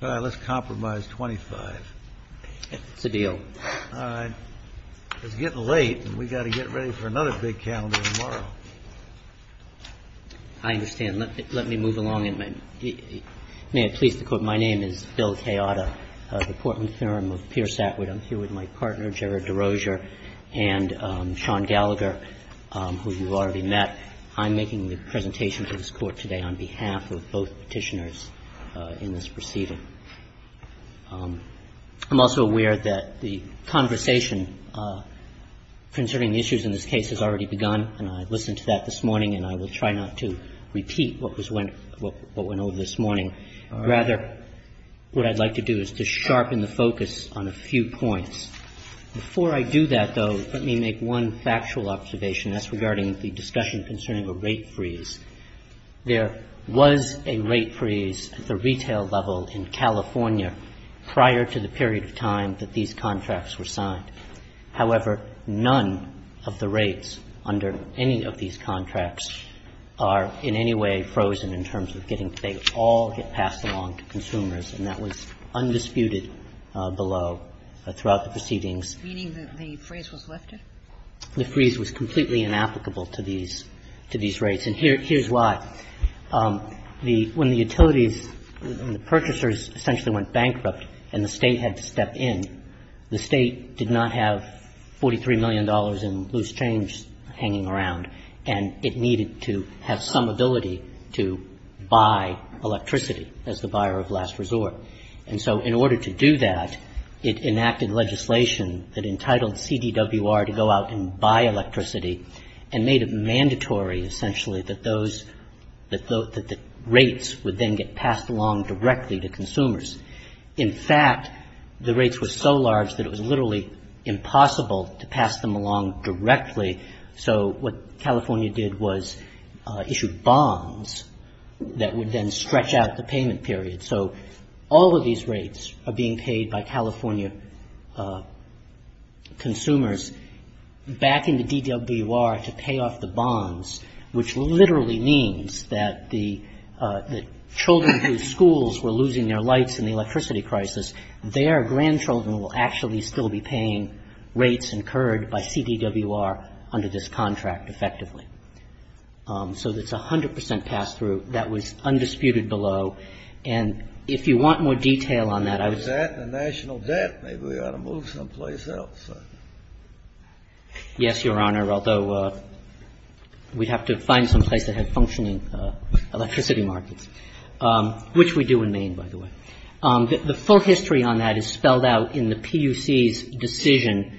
Let's compromise $25,000. It's getting late, and we've got to get ready for another big calendar tomorrow. I understand. Let me move along. May I please quote my name? It's Bill Kayada. I'm here with my partner, Jared DeRozier, and Sean Gallagher, who you've already met. I'm making the presentation to this Court today on behalf of both petitioners in this proceeding. I'm also aware that the conversation concerning the issues in this case has already begun, and I listened to that this morning, and I will try not to repeat what went over this morning. Rather, what I'd like to do is to sharpen the focus on a few points. Before I do that, though, let me make one factual observation. That's regarding the discussion concerning a rate freeze. There was a rate freeze at the retail level in California prior to the period of time that these contracts were signed. However, none of the rates under any of these contracts are in any way frozen in terms of getting things all passed along to consumers, and that was undisputed below throughout the proceedings. Meaning that the freeze was lifted? The freeze was completely inapplicable to these rates, and here's why. When the utilities and the purchasers essentially went bankrupt and the State had to step in, the State did not have $43 million in loose change hanging around, and it needed to have some ability to buy electricity as the buyer of last resort. And so in order to do that, it enacted legislation that entitled CDWR to go out and buy electricity and made it mandatory, essentially, that rates would then get passed along directly to consumers. In fact, the rates were so large that it was literally impossible to pass them along directly, so what California did was issue bonds that would then stretch out the payment period. So all of these rates are being paid by California consumers back into DWR to pay off the bonds, which literally means that the children whose schools were losing their lights in the electricity crisis, their grandchildren will actually still be paying rates incurred by CDWR under this contract, effectively. So it's a 100% pass-through. That was undisputed below, and if you want more detail on that, I was... A national debt. Maybe we ought to move someplace else. Yes, Your Honor, although we'd have to find some place that has functioning electricity markets, which we do in Maine, by the way. The full history on that is spelled out in the PUC's decision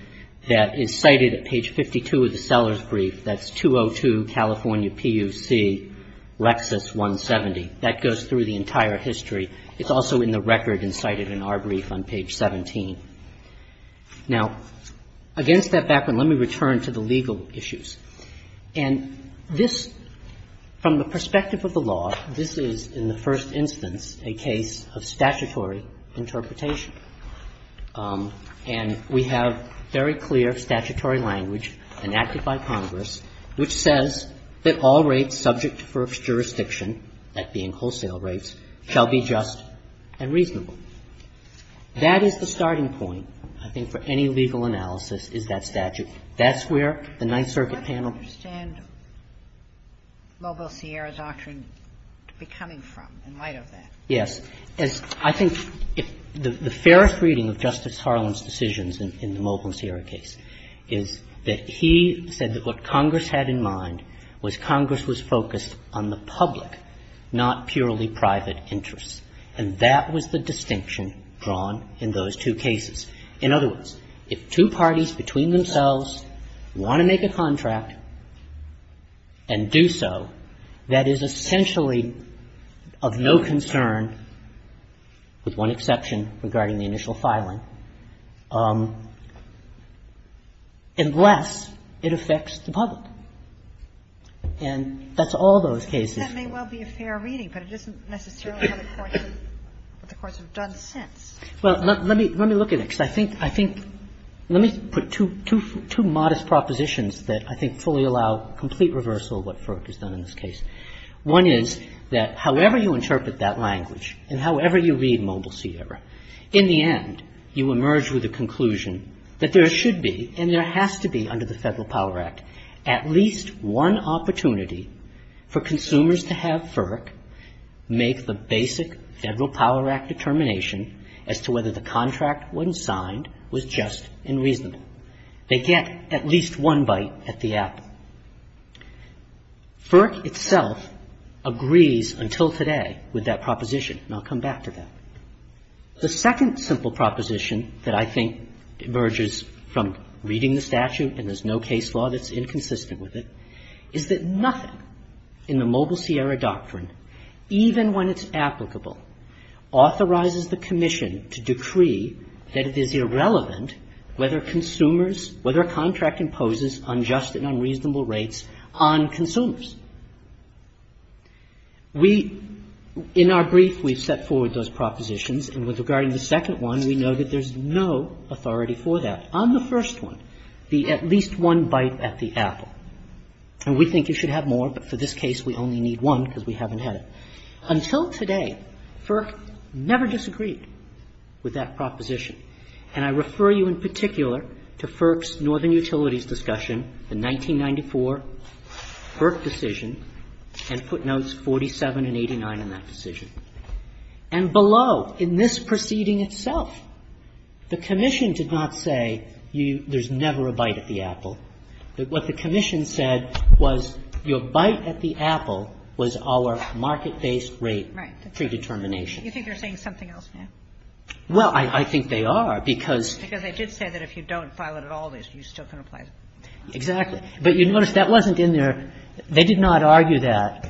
that is cited at page 52 of the seller's brief. That's 202 California PUC, Lexis 170. That goes through the entire history. It's also in the record and cited in our brief on page 17. Now, against that background, let me return to the legal issues. And this, from the perspective of the law, this is, in the first instance, a case of statutory interpretation. And we have very clear statutory language enacted by Congress which says that all rates subject to first jurisdiction, that being wholesale rates, shall be just and reasonable. That is the starting point, I think, for any legal analysis is that statute. And that's where the Ninth Circuit panel... I don't understand Mobile Sierra's doctrine coming from in light of that. Yes. I think the fairest reading of Justice Harlan's decisions in the Mobile Sierra case is that he said that what Congress had in mind was Congress was focused on the public, not purely private, interest. And that was the distinction drawn in those two cases. In other words, if two parties between themselves want to make a contract and do so, that is essentially of no concern, with one exception regarding the initial filing, unless it affects the public. And that's all those cases... That may well be a fair reading, but it isn't necessarily what the courts have done since. Well, let me look at it, because I think... Let me put two modest propositions that I think fully allow complete reversal of what FERC has done in this case. One is that however you interpret that language and however you read Mobile Sierra, in the end, you emerge with a conclusion that there should be, and there has to be under the Federal Power Act, at least one opportunity for consumers to have FERC make the basic Federal Power Act determination as to whether the contract when signed was just and reasonable. They get at least one bite at the apple. FERC itself agrees until today with that proposition, and I'll come back to that. The second simple proposition that I think emerges from reading the statute, and there's no case law that's inconsistent with it, is that nothing in the Mobile Sierra doctrine, even when it's applicable, authorizes the Commission to decree that it is irrelevant whether consumers, whether a contract imposes unjust and unreasonable rates on consumers. We, in our brief, we set forward those propositions, and with regard to the second one, we know that there's no authority for that. On the first one, the at least one bite at the apple, and we think you should have more, but for this case, we only need one because we haven't had it. Until today, FERC never disagreed with that proposition, and I refer you in particular to FERC's Northern Utilities Discussion in 1994, FERC decision, and footnotes 47 and 89 in that decision. And below, in this proceeding itself, the Commission did not say there's never a bite at the apple. What the Commission said was your bite at the apple was our market-based rate predetermination. You think they're saying something else now? Well, I think they are because... Because it did say that if you don't file it at all, you still can apply. Exactly. But you notice that wasn't in their... They did not argue that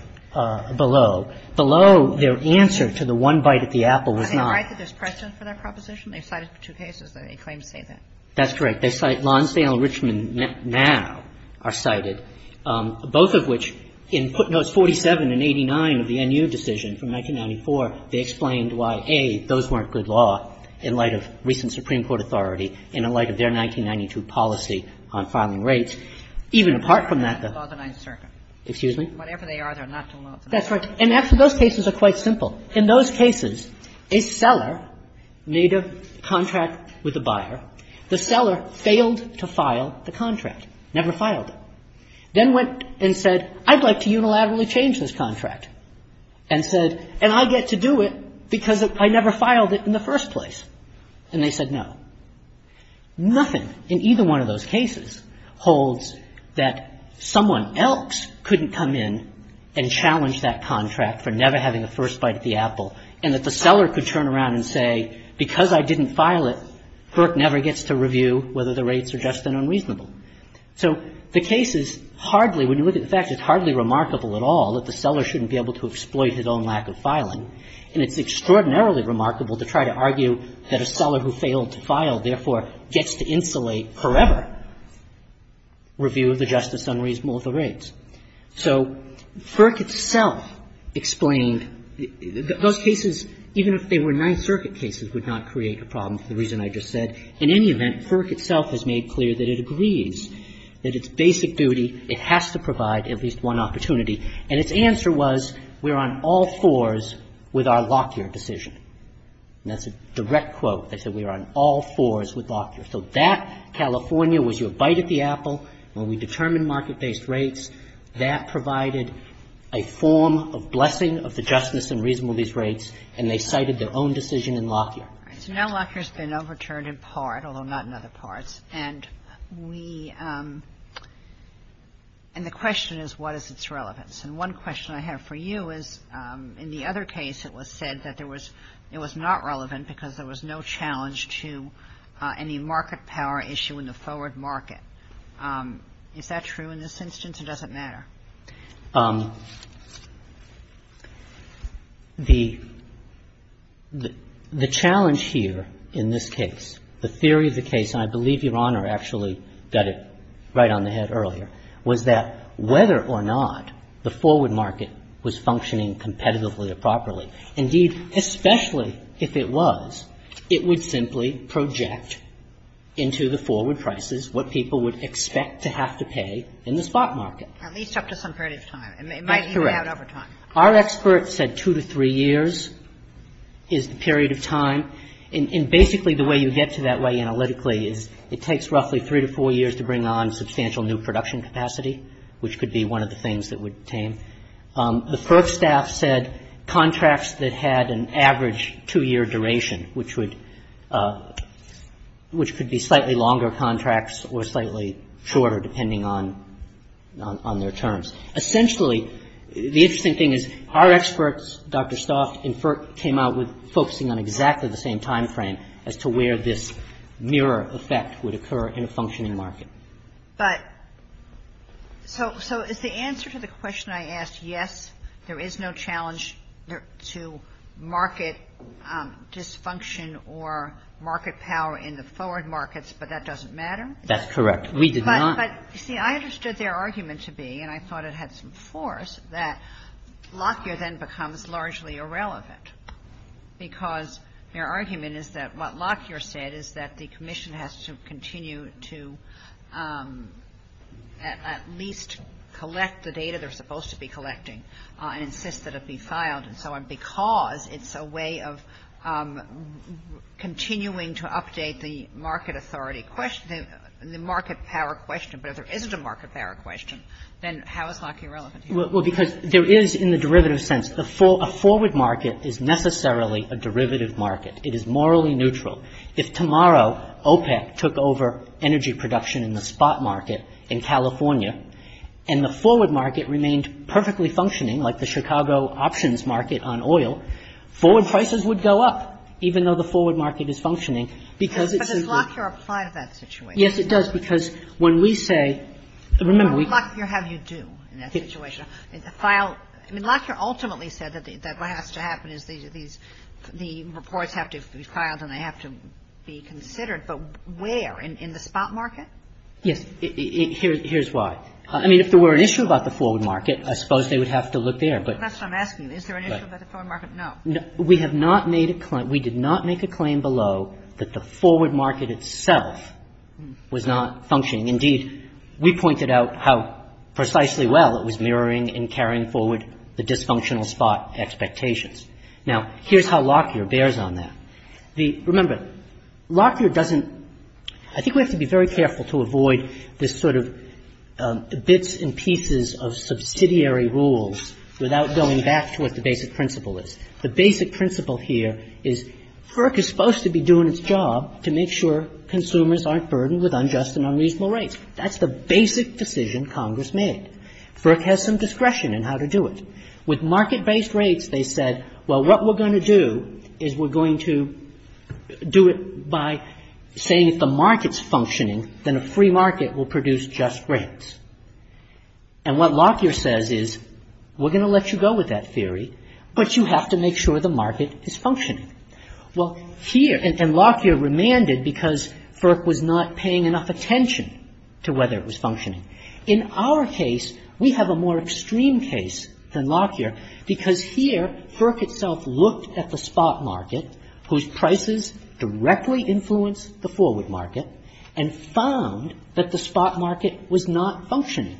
below. Below, their answer to the one bite at the apple was not... I mean, right, but there's precedent for that proposition. They cited two cases that they claim to date that. That's correct. They cite Lonsdale and Richmond now are cited, both of which in footnotes 47 and 89 of the NU decision from 1994, they explained why, A, those weren't good law in light of recent Supreme Court authority in light of their 1992 policy on filing rates. Even apart from that... Excuse me? Whatever they are, they're not... That's right. And actually, those cases are quite simple. In those cases, a seller made a contract with a buyer. The seller failed to file the contract, never filed it. Then went and said, I'd like to unilaterally change this contract. And said, and I get to do it because I never filed it in the first place. And they said no. Nothing in either one of those cases holds that someone else couldn't come in and challenge that contract for never having a first bite at the apple and that the seller could turn around and say, because I didn't file it, FERC never gets to review whether the rates are just and unreasonable. So the case is hardly, when you look at the fact, it's hardly remarkable at all that the seller shouldn't be able to exploit his own lack of filing. And it's extraordinarily remarkable to try to argue that a seller who failed to file, therefore, gets to insulate forever review of the justice on reasonable rates. So FERC itself explained, those cases, even if they were Ninth Circuit cases, would not create a problem for the reason I just said. In any event, FERC itself has made clear that it agrees that its basic duty, it has to provide at least one opportunity. And its answer was, we're on all fours with our Lockyer decision. And that's a direct quote. They said we're on all fours with Lockyer. So that California was your bite at the apple. When we determined market-based rates, that provided a form of blessing of the justice and reasonableness rates, and they cited their own decision in Lockyer. Now Lockyer's been overturned in part, although not in other parts. And the question is, what is its relevance? And one question I have for you is, in the other case, it was said that it was not relevant because there was no challenge to any market power issue in the forward market. Is that true in this instance? Or does it matter? The challenge here in this case, the theory of the case, and I believe Your Honor actually got it right on the head earlier, was that whether or not the forward market was functioning competitively or properly, indeed, especially if it was, it would simply project into the forward prices what people would expect to have to pay in the spot market. At least up to some period of time. That's correct. Our experts said two to three years is the period of time. And basically the way you get to that way analytically is it takes roughly three to four years to bring on substantial new production capacity, which could be one of the things that would attain. The PERC staff said contracts that had an average two-year duration, which would, which could be slightly longer contracts or slightly shorter depending on their terms. Essentially, the interesting thing is our experts, Dr. Stauff, came out with focusing on exactly the same timeframe as to where this mirror effect would occur in a functioning market. But, so is the answer to the question I asked yes, there is no challenge to market dysfunction or market power in the forward markets, but that doesn't matter. That's correct. We did not. But, see, I understood their argument to be, and I thought it had some force, that Lockyer then becomes largely irrelevant because their argument is that what Lockyer said is that the commission has to continue to at least collect the data they're supposed to be collecting and insist that it be filed and so on because it's a way of continuing to update the market authority question, the market power question. But if there is a market power question, then how is Lockyer relevant? Well, because there is in the derivative sense. A forward market is necessarily a derivative market. It is morally neutral. If tomorrow OPEC took over energy production in the spot market in California and the forward market remained perfectly functioning like the Chicago options market on oil, forward prices would go up even though the forward market is functioning because it's a... But does Lockyer apply to that situation? Yes, it does because when we say... Remember, we... How does Lockyer have you do in that situation? The file... I mean, Lockyer ultimately said that what has to happen is the reports have to be filed and they have to be considered, but where? In the spot market? Yes. Here's why. I mean, if there were an issue about the forward market, I suppose they would have to look there, but... That's what I'm asking. Is there an issue about the forward market? No. We have not made a... We did not make a claim below that the forward market itself was not functioning. Indeed, we pointed out how precisely well it was mirroring and carrying forward the dysfunctional spot expectations. Now, here's how Lockyer bears on that. Remember, Lockyer doesn't... I think we have to be very careful to avoid this sort of bits and pieces of subsidiary rules without going back to what the basic principle is. The basic principle here is FERC is supposed to be doing its job to make sure consumers aren't burdened with unjust and unreasonable rates. That's the basic decision Congress made. FERC has some discretion in how to do it. With market-based rates, they said, well, what we're going to do is we're going to do it by saying if the market's functioning, then a free market will produce just rates. And what Lockyer says is, we're going to let you go with that theory, but you have to make sure the market is functioning. Well, here, and Lockyer remanded because FERC was not paying enough attention to whether it was functioning. In our case, we have a more extreme case than Lockyer because here FERC itself looked at the spot market whose prices directly influenced the forward market and found that the spot market was not functioning.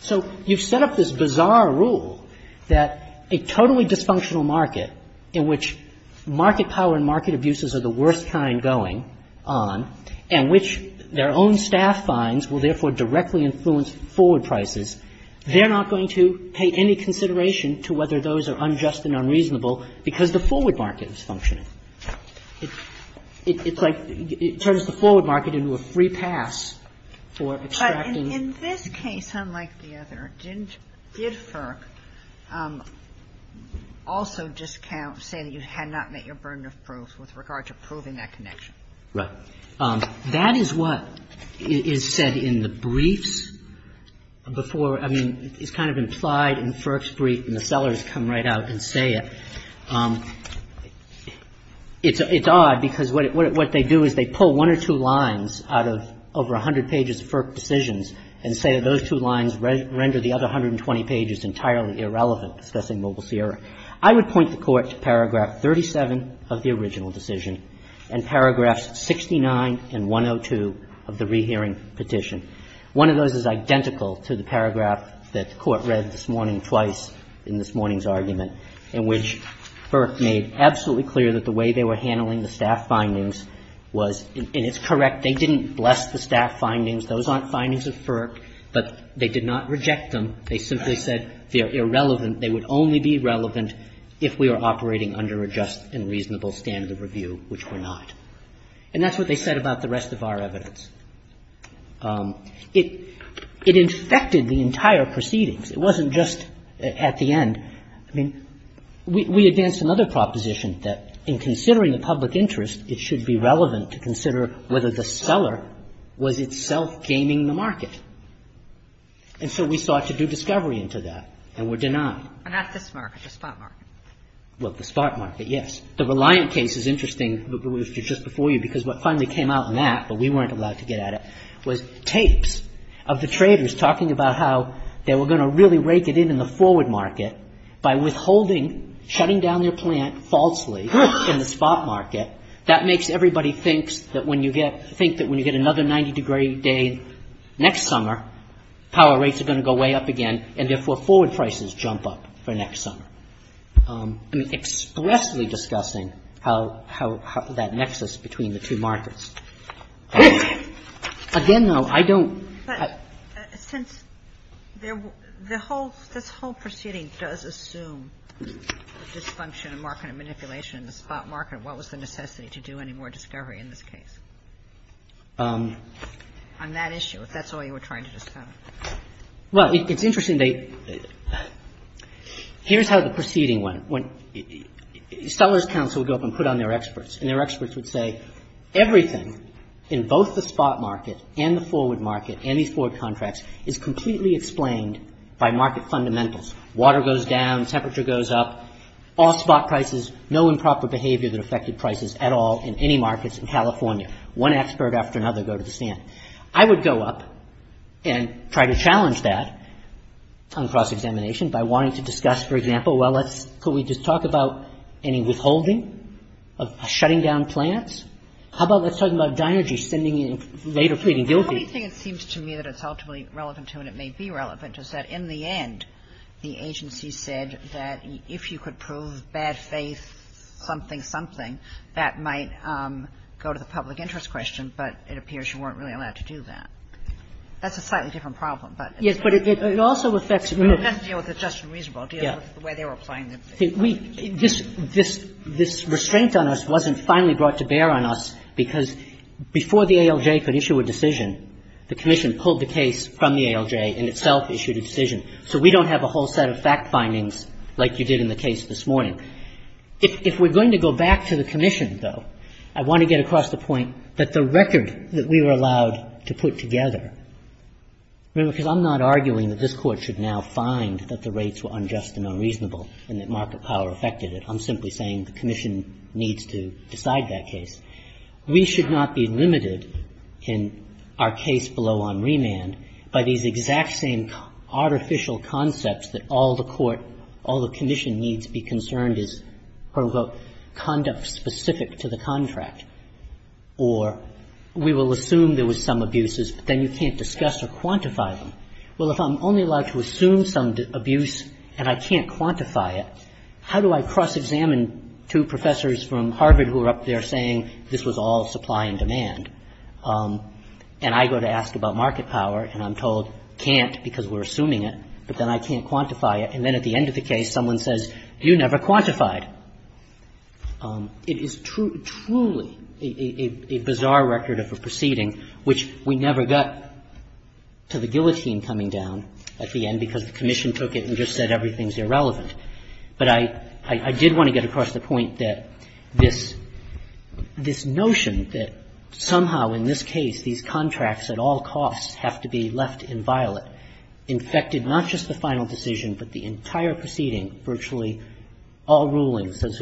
So, you've set up this bizarre rule that a totally dysfunctional market in which market power and market abuses are the worst kind going on and which their own staff finds will therefore directly influence forward prices, they're not going to pay any consideration to whether those are unjust and unreasonable because the forward market is functioning. It's like it turns the forward market into a free pass for extracting... In this case, unlike the other, did FERC also discount saying you had not met your burden of proof with regard to proving that connection? Right. That is what is said in the briefs before... I mean, it's kind of implied in FERC's brief and the sellers come right out and say it. It's odd because what they do is they pull one or two lines out of over 100 pages of FERC decisions and say that those two lines render the other 120 pages entirely irrelevant discussing Mobile Sierra. I would point the court to paragraph 37 of the original decision and paragraphs 69 and 102 of the rehearing petition. One of those is identical to the paragraph that the court read this morning twice in this morning's argument in which FERC made absolutely clear that the way they were handling the staff findings was, and it's correct, they didn't bless the staff findings. Those aren't findings of FERC, but they did not reject them. They simply said they're irrelevant. They would only be relevant if we are operating under a just and reasonable standard of review, which we're not. And that's what they said about the rest of our evidence. It infected the entire proceedings. It wasn't just at the end. I mean, we advanced another proposition that in considering a public interest, it should be relevant to consider whether the seller was itself gaining the market. And so we sought to do discovery into that and were denied. And not this market, the stock market. Well, the stock market, yes. The Reliant case is interesting, which was just before you, because what finally came out in that, but we weren't allowed to get at it, was tapes of the traders talking about how they were going to really rake it in in the forward market by withholding, shutting down their plant falsely in the stock market. That makes everybody think that when you get another 90-degree day next summer, power rates are going to go way up again, and therefore forward prices jump up for next summer. I mean, expressly discussing that nexus between the two markets. Again, though, I don't... Since this whole proceeding does assume the dysfunction of market manipulation in the spot market, what was the necessity to do any more discovery in this case? On that issue, if that's all you were trying to discuss. Well, it's interesting. Here's how the proceeding went. Sellers Council would go up and put on their experts, and their experts would say, Everything in both the spot market and the forward market, any four contracts, is completely explained by market fundamentals. Water goes down, temperature goes up. All spot prices, no improper behavior that affected prices at all in any markets in California. One expert after another go to the stand. I would go up and try to challenge that on cross-examination by wanting to discuss, for example, could we just talk about any withholding of shutting down plants? How about let's talk about dinergy spending in labor trading buildings? The only thing it seems to me that it's ultimately relevant to, and it may be relevant, is that in the end, the agency said that if you could prove bad faith, something, something, that might go to the public interest question, but it appears you weren't really allowed to do that. That's a slightly different problem, but... Yes, but it also affects... It doesn't deal with the just and reasonable. It deals with the way they're applying them. This restraint on us wasn't finally brought to bear on us because before the ALJ could issue a decision, the Commission pulled the case from the ALJ and itself issued a decision, so we don't have a whole set of fact findings like you did in the case this morning. If we're going to go back to the Commission, though, I want to get across the point that the record that we were allowed to put together, because I'm not arguing that this Court should now find that the rates were unjust and unreasonable and that market power affected it. I'm simply saying the Commission needs to decide that case. We should not be limited in our case below on remand by these exact same artificial concepts that all the Court, all the Commission needs to be concerned is conduct specific to the contract, or we will assume there was some abuses, but then you can't discuss or quantify them. Well, if I'm only allowed to assume some abuse and I can't quantify it, how do I cross-examine two professors from Harvard who are up there saying this was all supply and demand? And I go to ask about market power and I'm told, can't because we're assuming it, but then I can't quantify it, and then at the end of the case someone says, you never quantified. It is truly a bizarre record of a proceeding which we never got to the guillotine coming down at the end because the Commission took it and just said everything's irrelevant. But I did want to get across the point that this notion that somehow in this case these contracts at all costs have to be left in violet infected not just the final decision but the entire proceeding, virtually all rulings as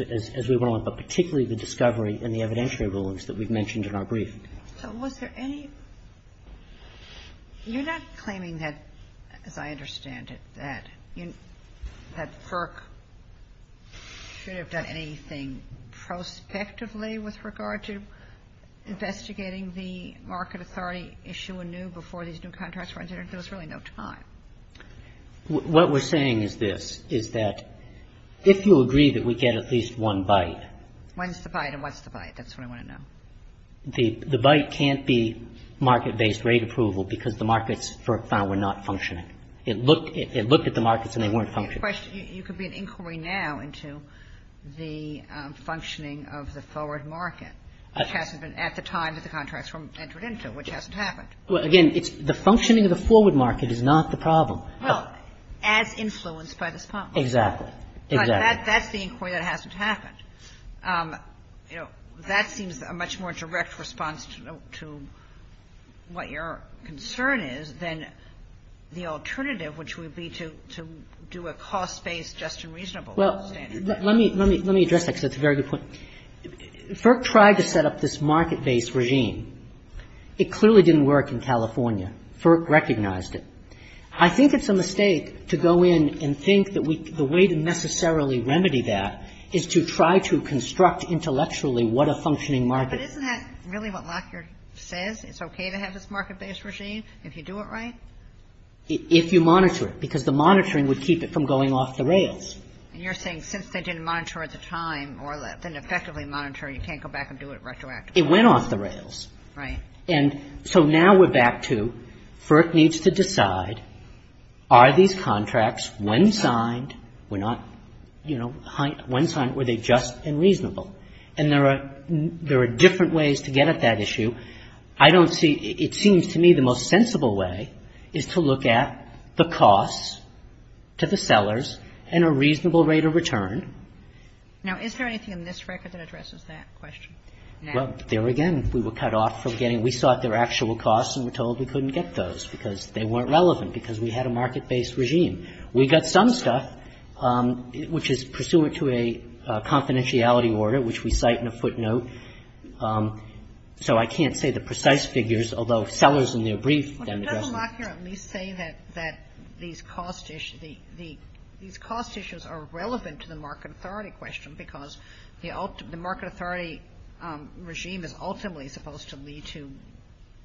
we went along, but particularly the discovery and the evidentiary rulings that we've mentioned in our brief. So was there any... You're not claiming that, as I understand it, that FERC should have done anything prospectively with regard to investigating the market authority issue anew before these new contracts were entered? There was really no time. What we're saying is this, is that if you agree that we get at least one bite... When's the bite and what's the bite? That's what I want to know. The bite can't be market-based rate approval because the markets for a while were not functioning. It looked at the markets and they weren't functioning. You could be in inquiry now into the functioning of the forward market at the time that the contracts were entered into, which hasn't happened. Well, again, the functioning of the forward market is not the problem. Well, as influenced by this problem. Exactly. But that's the inquiry that hasn't happened. That seems a much more direct response to what your concern is than the alternative, which would be to do a cost-based just and reasonable standard. Well, let me address that because it's a very good point. FERC tried to set up this market-based regime. It clearly didn't work in California. FERC recognized it. I think it's a mistake to go in and think that the way to necessarily remedy that is to try to construct intellectually what a functioning market is. But isn't that really what Lockyer said? It's okay to have this market-based regime if you do it right? If you monitor it. Because the monitoring would keep it from going off the rails. And you're saying since they didn't monitor at the time or didn't effectively monitor, you can't go back and do it retroactively. It went off the rails. Right. And so now we're back to FERC needs to decide are these contracts, when signed, were not, you know, when signed, were they just and reasonable? And there are different ways to get at that issue. I don't see, it seems to me the most sensible way is to look at the costs to the sellers and a reasonable rate of return. Now, is there anything in this record that addresses that question? Well, there again, we were cut off from getting, we sought their actual costs and we're told we couldn't get those because they weren't relevant because we had a market-based regime. We got some stuff, which is pursuant to a confidentiality order, which we cite in a footnote. So I can't say the precise figures, although sellers and their briefs can address that. Well, just to come back here, let me say that these cost issues, these cost issues are relevant to the market authority question is ultimately supposed to lead to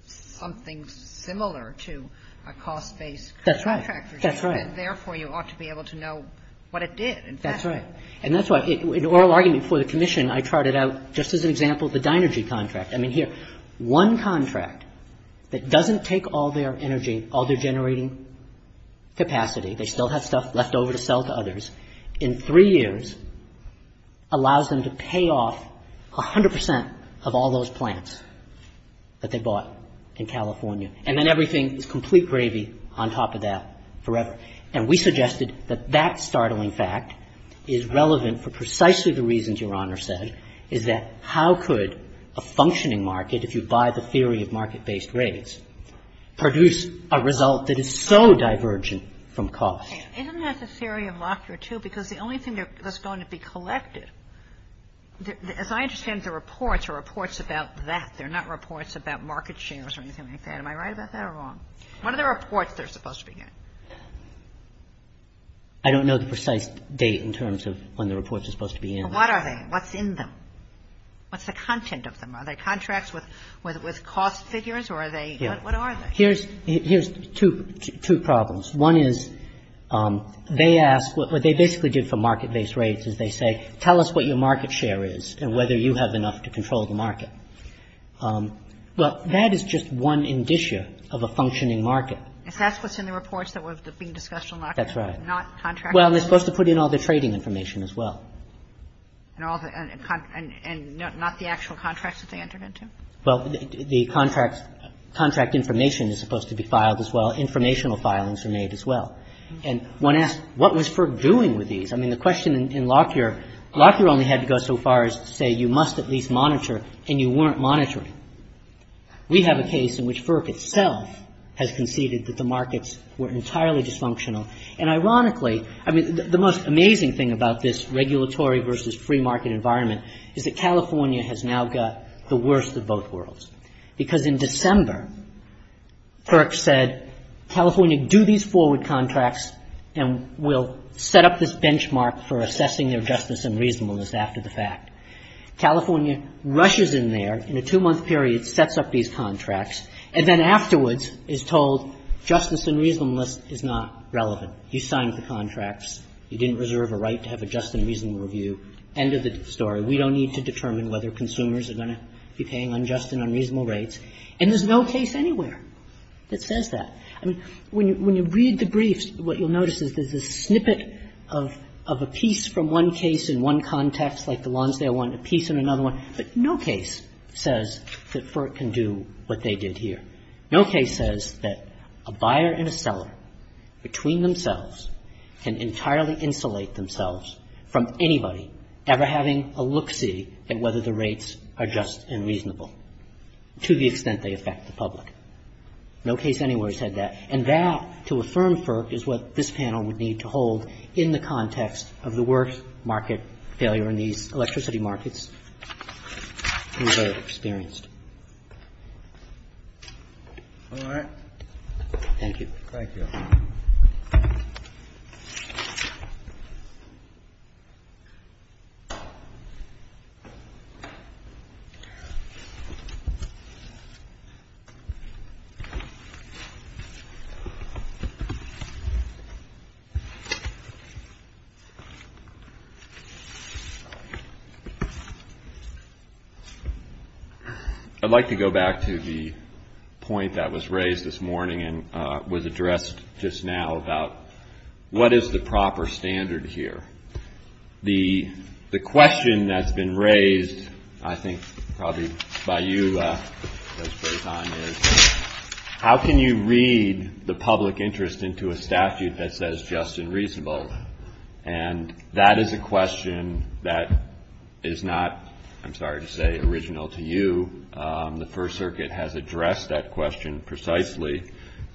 something similar to a cost-based contract regime. That's right. Therefore, you ought to be able to know what it did. That's right. And that's why, in oral argument for the commission, I charted out, just as an example, the Dinergy contract. I mean, here, one contract that doesn't take all their energy, all their generating capacity, they still have stuff left over to sell to others, in three years, allows them to pay off 100% of all those plants that they bought in California. And then everything is complete gravy on top of that forever. And we suggested that that startling fact is relevant for precisely the reasons Your Honor said, is that how could a functioning market, if you buy the theory of market-based rates, produce a result that is so divergent from cost? Isn't that the theory of laughter, too? Because the only thing that's going to be collected, as I understand the reports, are reports about that. They're not reports about market shares or anything like that. Am I right about that or wrong? What are the reports they're supposed to be in? I don't know the precise date in terms of when the reports are supposed to be in. What are they? What's in them? What's the content of them? Are they contracts with cost figures? What are they? Here's two problems. One is, they ask, what they basically do for market-based rates is they say, tell us what your market share is and whether you have enough to control the market. But that is just one indicia of a functioning market. If that's what's in the reports that were being discussed in Lockyer, not contracts? Well, they're supposed to put in all the trading information as well. And not the actual contracts that they entered into? Well, the contract information is supposed to be filed as well. Informational filings are made as well. And one asks, what was FERC doing with these? I mean, the question in Lockyer, Lockyer only had to go so far as to say, you must at least monitor, and you weren't monitoring. We have a case in which FERC itself has conceded that the markets were entirely dysfunctional. And ironically, I mean, the most amazing thing about this regulatory versus free market environment is that California has now got the worst of both worlds. Because in December, FERC said, California, do these forward contracts and we'll set up this benchmark for assessing their justice and reasonableness after the fact. California rushes in there in a two-month period, sets up these contracts, and then afterwards is told justice and reasonableness is not relevant. You signed the contracts. You didn't reserve a right to have a just and reasonable review. End of the story. We don't need to determine whether consumers are going to be paying on just and unreasonable rates. And there's no case anywhere that says that. I mean, when you read the briefs, what you'll notice is there's a snippet of a piece from one case in one context, like the Lonsdale one, a piece in another one, but no case. No case says that FERC can do what they did here. No case says that a buyer and a seller between themselves can entirely insulate themselves from anybody ever having a look-see at whether the rates are just and reasonable to the extent they affect the public. No case anywhere said that. And that, to affirm FERC, is what this panel would need to hold in the context of the worst market failure in the electricity markets we've ever experienced. All right. Thank you. Thank you. I'd like to go back to the point that was raised this morning and was addressed just now about what is the proper standard here. The question that's been raised, I think probably by you, is how can you read the public interest into a statute that says just and reasonable? And that is a question that is not, I'm sorry to say, original to you. The First Circuit has addressed that question precisely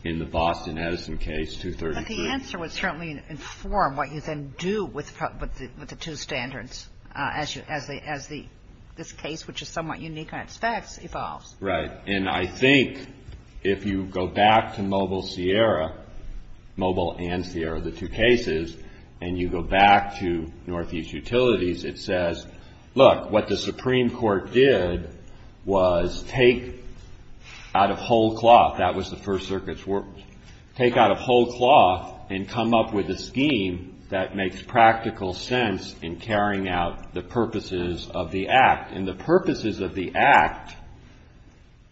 in the Boston-Edison case, 233. But the answer would certainly inform what you then do with the two standards as this case, which is somewhat unique on its facts, evolves. Right. And I think if you go back to Mobile and Sierra, the two cases, and you go back to Northeast Utilities, it says, look, what the Supreme Court did was take out of whole cloth, that was the First Circuit's work, take out of whole cloth and come up with a scheme that makes practical sense in carrying out the purposes of the Act. And the purposes of the Act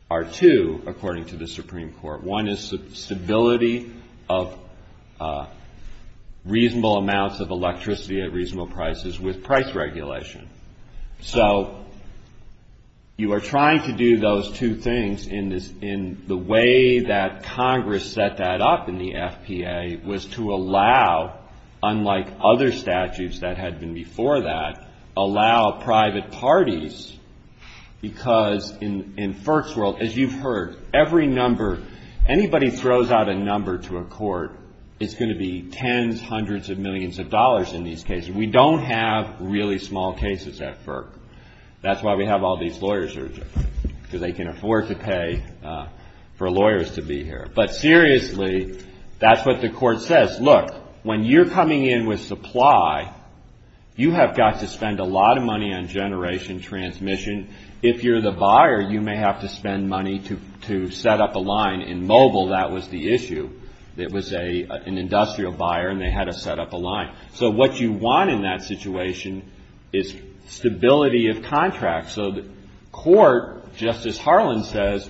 are two, according to the Supreme Court. One is stability of reasonable amounts of electricity at reasonable prices with price regulation. So you are trying to do those two things in the way that Congress set that up in the FPA was to allow, unlike other statutes that had been before that, allow private parties, because in FERC's world, as you've heard, every number, anybody throws out a number to a court, it's going to be tens, hundreds of millions of dollars in these cases. We don't have really small cases at FERC. That's why we have all these lawyers here because they can afford to pay for lawyers to be here. But seriously, that's what the court says. Look, when you're coming in with supply, you have got to spend a lot of money on generation transmission. If you're the buyer, you may have to spend money to set up a line. In Mobile, that was the issue. It was an industrial buyer, and they had to set up a line. So what you want in that situation is stability of contracts. So the court, just as Harlan says,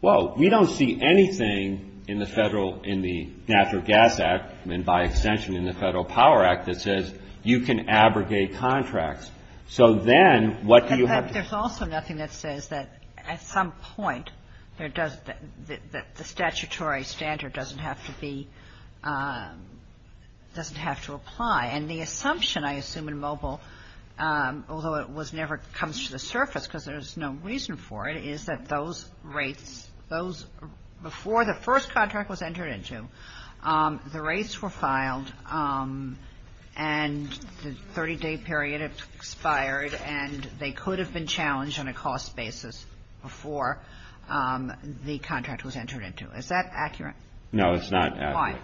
well, we don't see anything in the Federal, in the Gas Act, and by extension in the Federal Power Act, that says you can abrogate contracts. So then what do you have... There's also nothing that says that at some point the statutory standard doesn't have to be, doesn't have to apply. And the assumption, I assume, in Mobile, although it never comes to the surface because there's no reason for it, is that those rates, before the first contract was entered into, the rates were filed, and the 30-day period expired, and they could have been challenged on a cost basis before the contract was entered into. Is that accurate? No, it's not accurate. Why?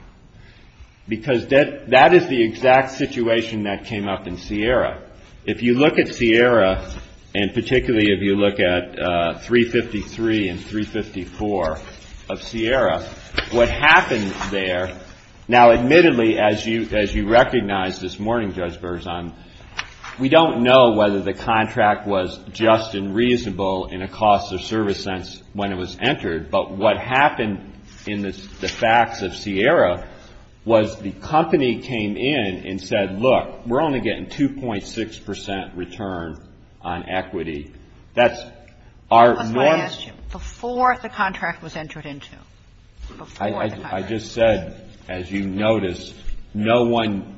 Because that is the exact situation that came up in Sierra. If you look at Sierra, and particularly if you look at 353 and 354 of Sierra, what happens there... Now, admittedly, as you recognized this morning, Judge Berzon, we don't know whether the contract was just and reasonable in a cost of service sense when it was entered, but what happened in the facts of Sierra was the company came in and said, look, we're only getting 2.6% return on equity. That's our... Before the contract was entered into. I just said, as you noticed, no one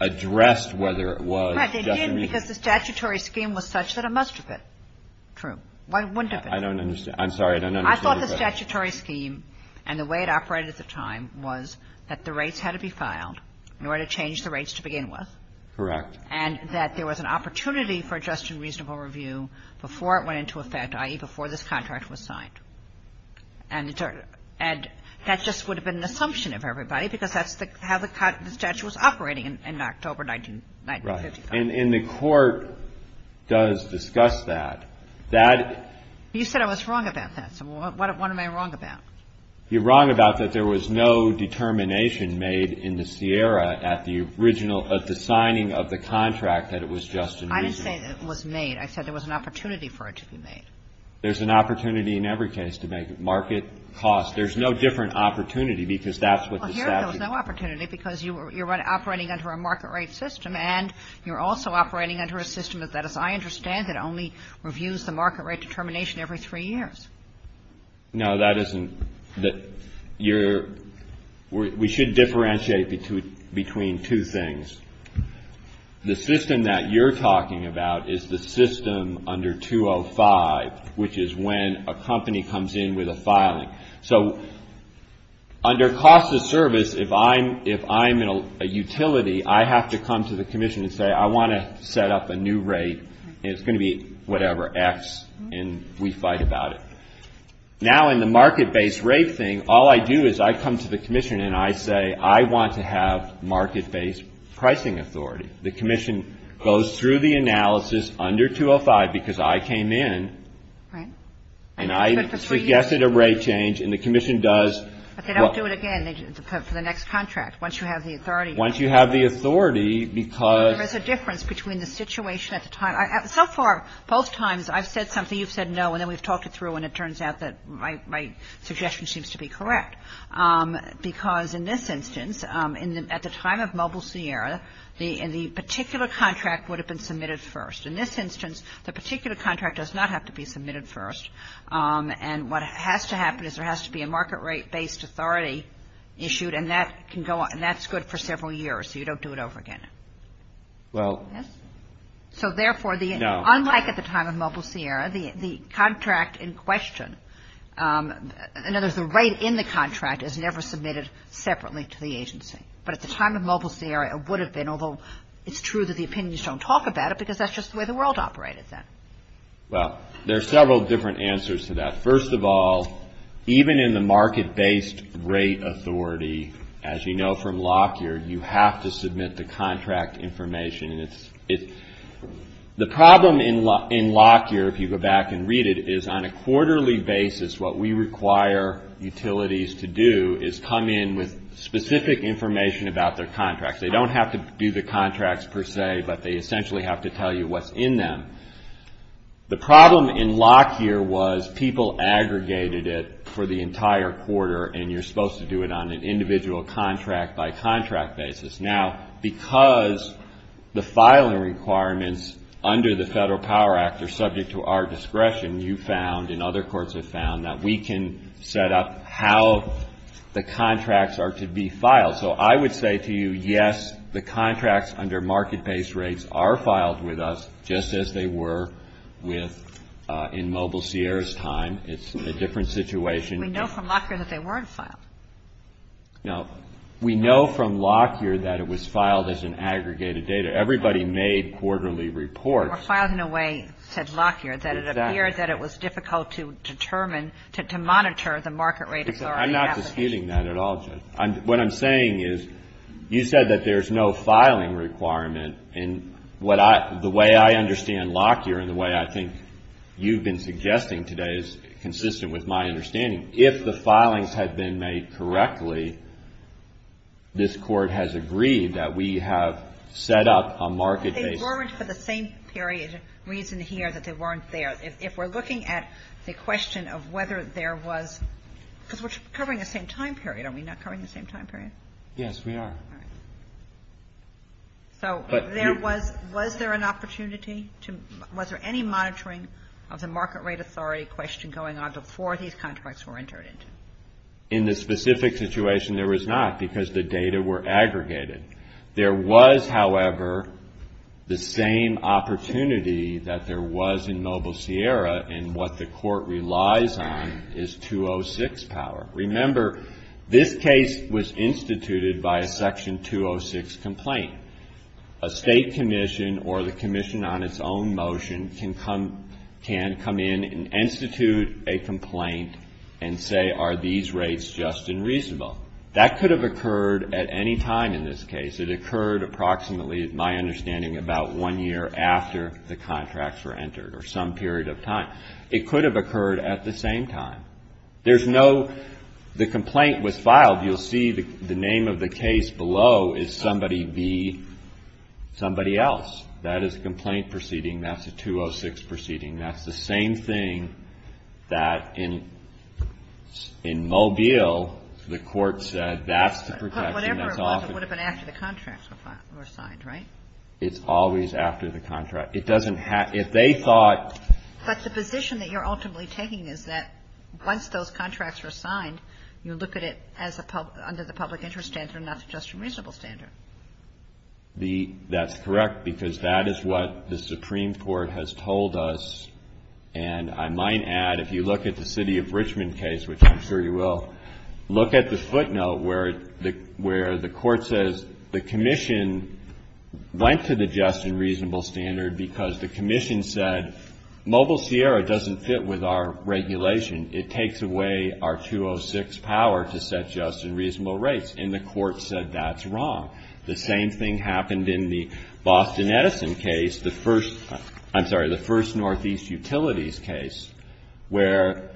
addressed whether it was... Right, they didn't, because the statutory scheme was such that it must have been. True. I don't understand. I'm sorry, I don't understand. I thought the statutory scheme and the way it operated at the time was that the rates had to be filed in order to change the rates to begin with. Correct. And that there was an opportunity for just and reasonable review before it went into effect, i.e., before this contract was signed. And that just would have been an assumption of everybody because that's how the statute was operating in October 1954. Right, and the court does discuss that. You said I was wrong about that, so what am I wrong about? You're wrong about that there was no determination made in the Sierra at the signing of the contract that it was just and reasonable. I didn't say that it was made. I said there was an opportunity for it to be made. There's an opportunity in every case to make it. Market, cost, there's no different opportunity because that's what the statute... Well, here there was no opportunity because you're operating under a market rate system and you're also operating under a system that, as I understand it, only reviews the market rate determination every three years. No, that isn't... You're... We should differentiate between two things. The system that you're talking about is the system under 205, which is when a company comes in with a filing. So, under cost of service, if I'm in a utility, I have to come to the commission and say, I want to set up a new rate. It's going to be whatever, X, and we fight about it. Now, in the market-based rate thing, all I do is I come to the commission and I say, I want to have market-based pricing authority. The commission goes through the analysis under 205 because I came in... Right. And I suggested a rate change and the commission does... But they don't do it again for the next contract, once you have the authority. Once you have the authority because... There's a difference between the situation at the time... So far, both times, I've said something, you've said no, and then we've talked it through and it turns out that my suggestion seems to be correct because, in this instance, at the time of Mobile Sierra, the particular contract would have been submitted first. In this instance, the particular contract does not have to be submitted first. And what has to happen is there has to be a market-rate-based authority issued and that's good for several years so you don't do it over again. Well... So, therefore, unlike at the time of Mobile Sierra, the contract in question, in other words, the rate in the contract is never submitted separately to the agency. But at the time of Mobile Sierra, it would have been, although it's true that the opinions don't talk about it Well, there are several different answers to that. First of all, even in the market-based rate authority, as you know from Lockyer, you have to submit the contract information. The problem in Lockyer, if you go back and read it, is on a quarterly basis, what we require utilities to do is come in with specific information about their contracts. They don't have to do the contracts per se, but they essentially have to tell you what's in them. The problem in Lockyer was people aggregated it for the entire quarter and you're supposed to do it on an individual contract-by-contract basis. Now, because the filing requirements under the Federal Power Act are subject to our discretion, you found and other courts have found that we can set up how the contracts are to be filed. So I would say to you, yes, the contracts under market-based rates are filed with us just as they were in Mobile Sierra's time. It's a different situation. We know from Lockyer that they weren't filed. No. We know from Lockyer that it was filed as an aggregated data. Everybody made quarterly reports. It was filed in a way, said Lockyer, that it appeared that it was difficult to determine, to monitor the market rate authority. I'm not disputing that at all, Jen. What I'm saying is you said that there's no filing requirement. The way I understand Lockyer and the way I think you've been suggesting today is consistent with my understanding. If the filings had been made correctly, this Court has agreed that we have set up a market-based... It weren't for the same period reason here that they weren't there. If we're looking at the question of whether there was... The same period, are we not covering the same time period? Yes, we are. So, was there an opportunity to... Was there any monitoring of the market rate authority question going on before these contracts were entered into? In the specific situation, there was not, because the data were aggregated. There was, however, the same opportunity that there was in Mobile Sierra in what the Court relies on is 206 power. Remember, this case was instituted by a Section 206 complaint. A state commission or the commission on its own motion can come in and institute a complaint and say, are these rates just and reasonable? That could have occurred at any time in this case. It occurred approximately, my understanding, about one year after the contracts were entered, or some period of time. It could have occurred at the same time. There's no... The complaint was filed. You'll see the name of the case below is somebody else. That is a complaint proceeding. That's a 206 proceeding. That's the same thing that in Mobile, the Court said that's the protection... But whatever it was, it would have been after the contracts were signed, right? It's always after the contract. It doesn't have... If they thought... But the position that you're ultimately taking is that once those contracts are signed, you look at it under the public interest standard, not the just and reasonable standard. That's correct, because that is what the Supreme Court has told us. And I might add, if you look at the city of Richmond case, which I'm sure you will, look at the footnote where the Court says the commission went to the just and reasonable standard because the commission said Mobile Sierra doesn't fit with our regulation. It takes away our 206 power to set just and reasonable rates. And the Court said that's wrong. The same thing happened in the Boston Edison case, the first... I'm sorry, the first Northeast Utilities case, where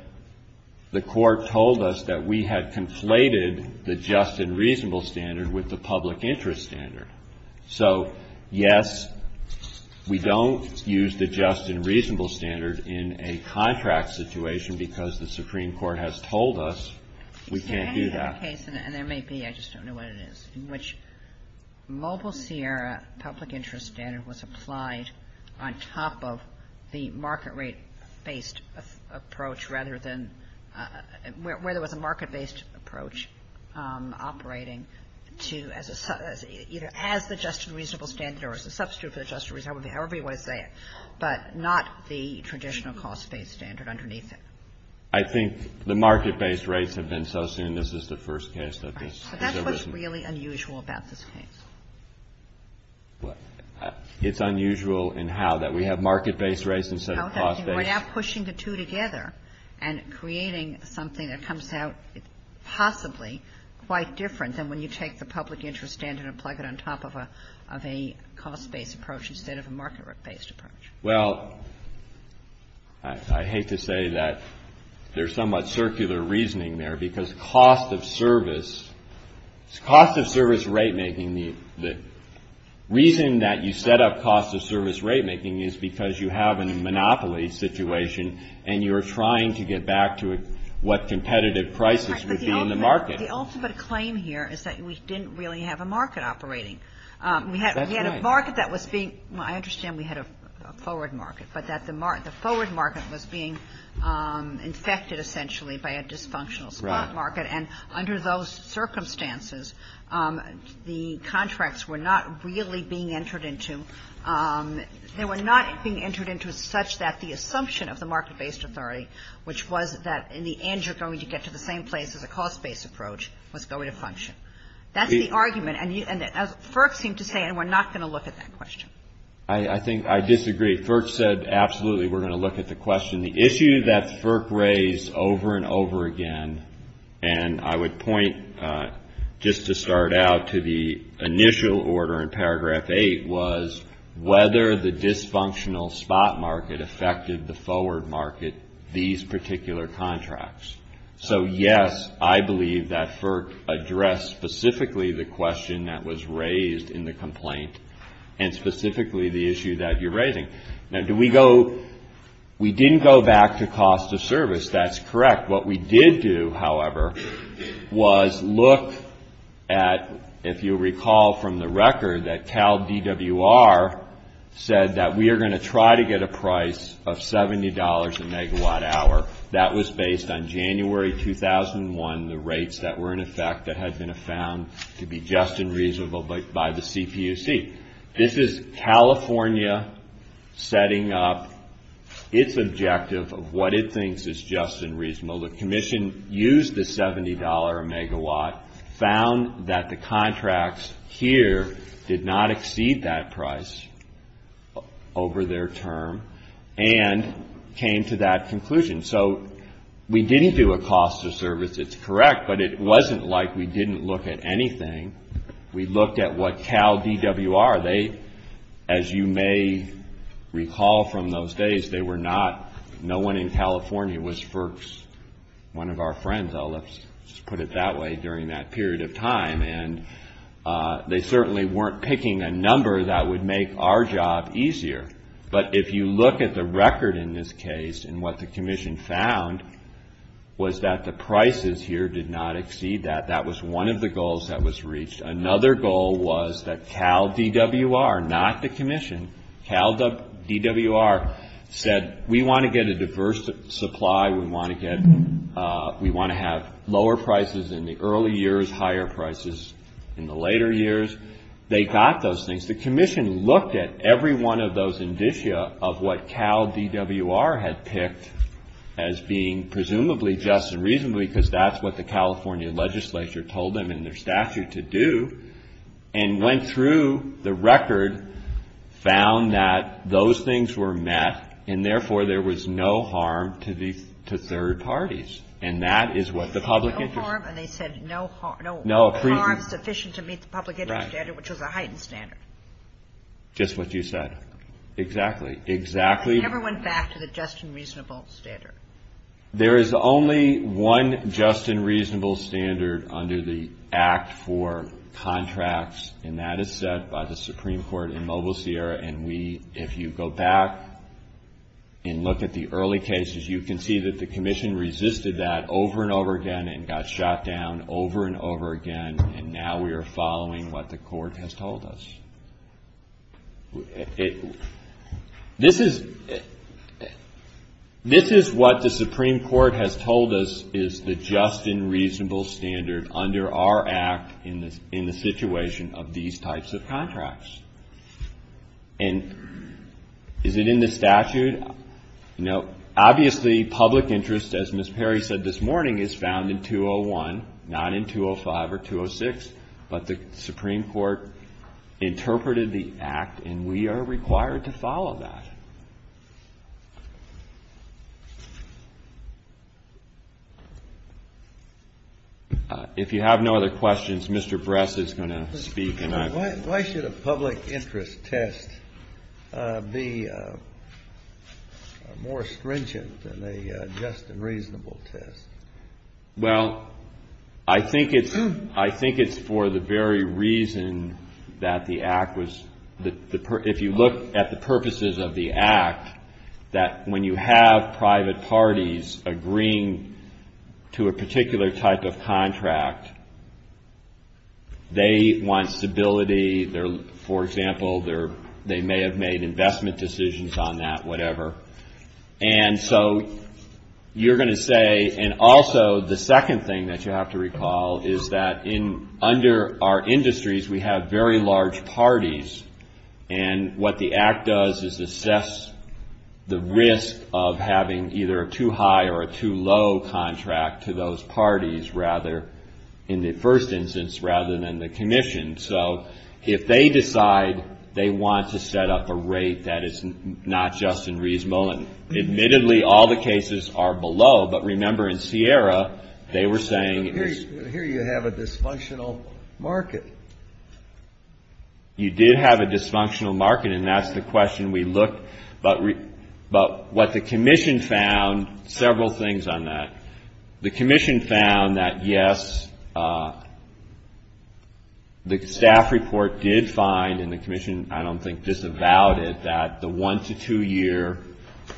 the Court told us that we had conflated the just and reasonable standard with the public interest standard. So, yes, we don't use the just and reasonable standard in a contract situation because the Supreme Court has told us we can't do that. In any other case, and there may be, I just don't know what it is, in which Mobile Sierra public interest standard was applied on top of the market rate-based approach rather than... Where there was a market-based approach operating either as the just and reasonable standard or as a substitute for the just and reasonable standard, however you want to say it, but not the traditional cost-based standard underneath it. I think the market-based rates have been sus and this is the first case that this has arisen. That's what's really unusual about this case. It's unusual in how that we have market-based rates instead of cost-based. We're now pushing the two together and creating something that comes out possibly quite different than when you take the public interest standard and plug it on top of a cost-based approach instead of a market-based approach. Well, I hate to say that there's somewhat circular reasoning there because cost of service, cost of service rate-making, the reason that you set up cost of service rate-making is because you have a monopoly situation and you're trying to get back to what competitive prices would be in the market. The ultimate claim here is that we didn't really have a market operating. We had a market that was being, I understand we had a forward market, but that the forward market was being infected essentially by a dysfunctional stock market and under those circumstances, the contracts were not really being entered into. They were not being entered into such that the assumption of the market-based authority, which was that in the end you're going to get to the same place where the cost-based approach was going to function. That's the argument and FERC seemed to say and we're not going to look at that question. I think I disagree. FERC said absolutely we're going to look at the question. The issue that FERC raised over and over again and I would point just to start out to the initial order in paragraph 8 was whether the dysfunctional spot market affected the forward market, these particular contracts. So, yes, I believe that FERC addressed specifically the question that was raised in the complaint and specifically the issue that you're raising. Now, do we go, we didn't go back to cost of service. That's correct. What we did do, however, was look at, if you recall from the record, that Cal DWR said that we are going to try to get a price of $70 a megawatt hour. That was based on January 2001, the rates that were in effect that had been found to be just and reasonable by the CPUC. This is California setting up its objective of what it thinks is just and reasonable. The commission used the $70 a megawatt, found that the contracts here did not exceed that price over their term and came to that conclusion. So, we didn't do a cost of service, it's correct, but it wasn't like we didn't look at anything. We looked at what Cal DWR, they, as you may recall from those days, they were not, no one in California was FERC's, one of our friends, I'll just put it that way, during that period of time. And they certainly weren't picking a number that would make our job easier. But if you look at the record in this case and what the commission found was that the prices here did not exceed that, that was one of the goals that was reached. Another goal was that Cal DWR, not the commission, Cal DWR said, we want to get a diverse supply, we want to have lower prices in the early years, higher prices in the later years. They got those things. The commission looked at every one of those indicia of what Cal DWR had picked as being presumably just and reasonably, because that's what the California legislature told them in their statute to do, and went through the record, found that those things were met, and therefore there was no harm to third parties. And that is what the public interest. No harm, and they said no harm, no harm sufficient to meet the public interest standard, which was a heightened standard. Just what you said. Exactly. Exactly. I never went back to the just and reasonable standard. There is only one just and reasonable standard under the Act for Contracts, and that is set by the Supreme Court in Mobile, Sierra, and we, if you go back and look at the early cases, you can see that the commission resisted that over and over again and got shot down over and over again, and now we are following what the court has told us. This is what the Supreme Court has told us is the just and reasonable standard under our Act in the situation of these types of contracts. And is it in the statute? No. Obviously, public interest, as Ms. Perry said this morning, is found in 201, not in 205 or 206, but the Supreme Court interpreted the Act and we are required to follow that. If you have no other questions, Mr. Bress is going to speak. Why should a public interest test be more stringent than a just and reasonable test? Well, I think it's for the very reason that the Act was, if you look at the purposes of the Act, that when you have private parties agreeing to a particular type of contract, they want stability, for example, they may have made investment decisions on that, whatever, and so you're going to say, and also the second thing that you have to recall is that under our industries we have very large parties and what the Act does is assess the risk of having either a too high or a too low contract to those parties, rather, in the first instance, rather than the Commission. So if they decide they want to set up a rate that is not just and reasonable, and admittedly all the cases are below, but remember in Sierra they were saying... Here you have a dysfunctional market. You did have a dysfunctional market and that's the question we looked, but what the Commission found, several things on that. The Commission found that, yes, the staff report did find, and the Commission, I don't think, disavowed it, that the one- to two-year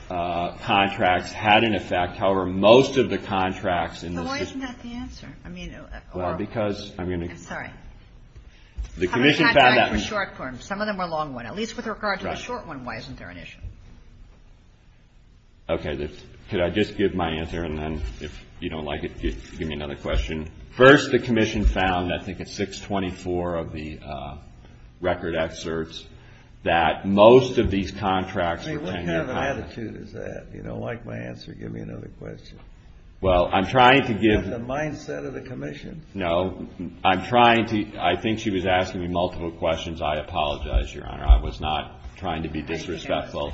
contract had an effect, however, most of the contracts... Why isn't that the answer? Well, because I'm going to... Sorry. The Commission found that... Some of the contracts were short-form. Some of them were long-run. At least with regard to the short one, why isn't there an issue? Okay, could I just give my answer and then if you don't like it, give me another question. First, the Commission found, I think it's 624 of the record excerpts, that most of these contracts... What kind of an attitude is that? If you don't like my answer, give me another question. Well, I'm trying to give... That's the mindset of the Commission. No, I'm trying to... I think she was asking me multiple questions. I apologize, Your Honor. I was not trying to be disrespectful.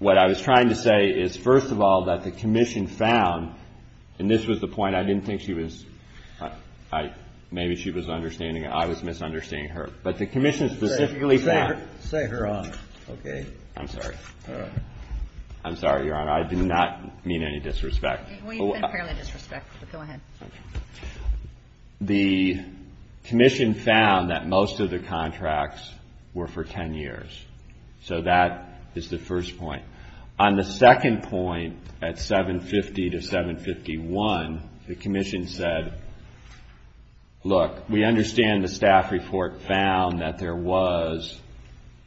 What I was trying to say is, first of all, that the Commission found, and this was the point, I didn't think she was... Maybe she was understanding it. I was misunderstanding her. But the Commission specifically found... Say her honor. Okay. I'm sorry. All right. I'm sorry, Your Honor. I did not mean any disrespect. Well, you've been apparently disrespectful, so go ahead. The Commission found that most of the contracts were for 10 years. So that is the first point. On the second point, at 750 to 751, the Commission said, look, we understand the staff report found that there was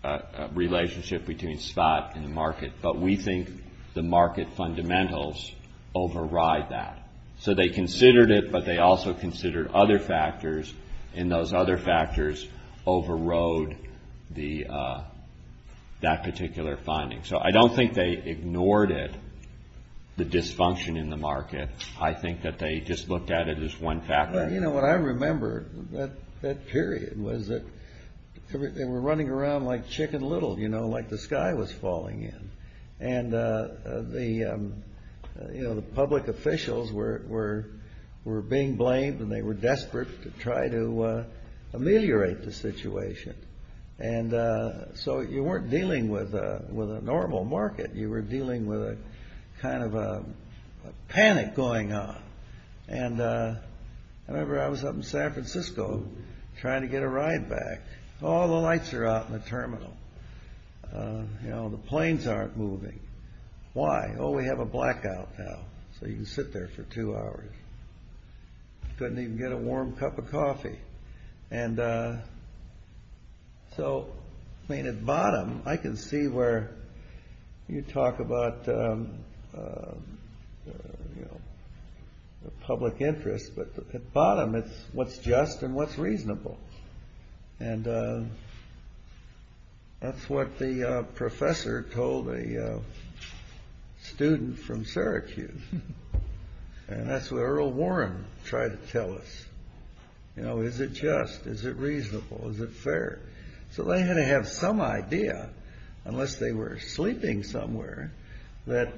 a relationship between spot and market, but we think the market fundamentals override that. So they considered it, but they also considered other factors, and those other factors overrode that particular finding. So I don't think they ignored it, the dysfunction in the market. I think that they just looked at it as one factor. But, you know, what I remember, that period, was that they were running around like chicken little, you know, like the sky was falling in. And, you know, the public officials were being blamed and they were desperate to try to ameliorate the situation. And so you weren't dealing with a normal market. You were dealing with a kind of a panic going on. And I remember I was up in San Francisco trying to get a ride back. All the lights are out in the terminal. You know, the planes aren't moving. Why? Oh, we have a blackout now. So you can sit there for two hours. Couldn't even get a warm cup of coffee. And so, I mean, at bottom I can see where you talk about the public interest, but at bottom it's what's just and what's reasonable. And that's what the professor told a student from Syracuse. And that's what Earl Warren tried to tell us. You know, is it just? Is it reasonable? Is it fair? So they had to have some idea, unless they were sleeping somewhere, that,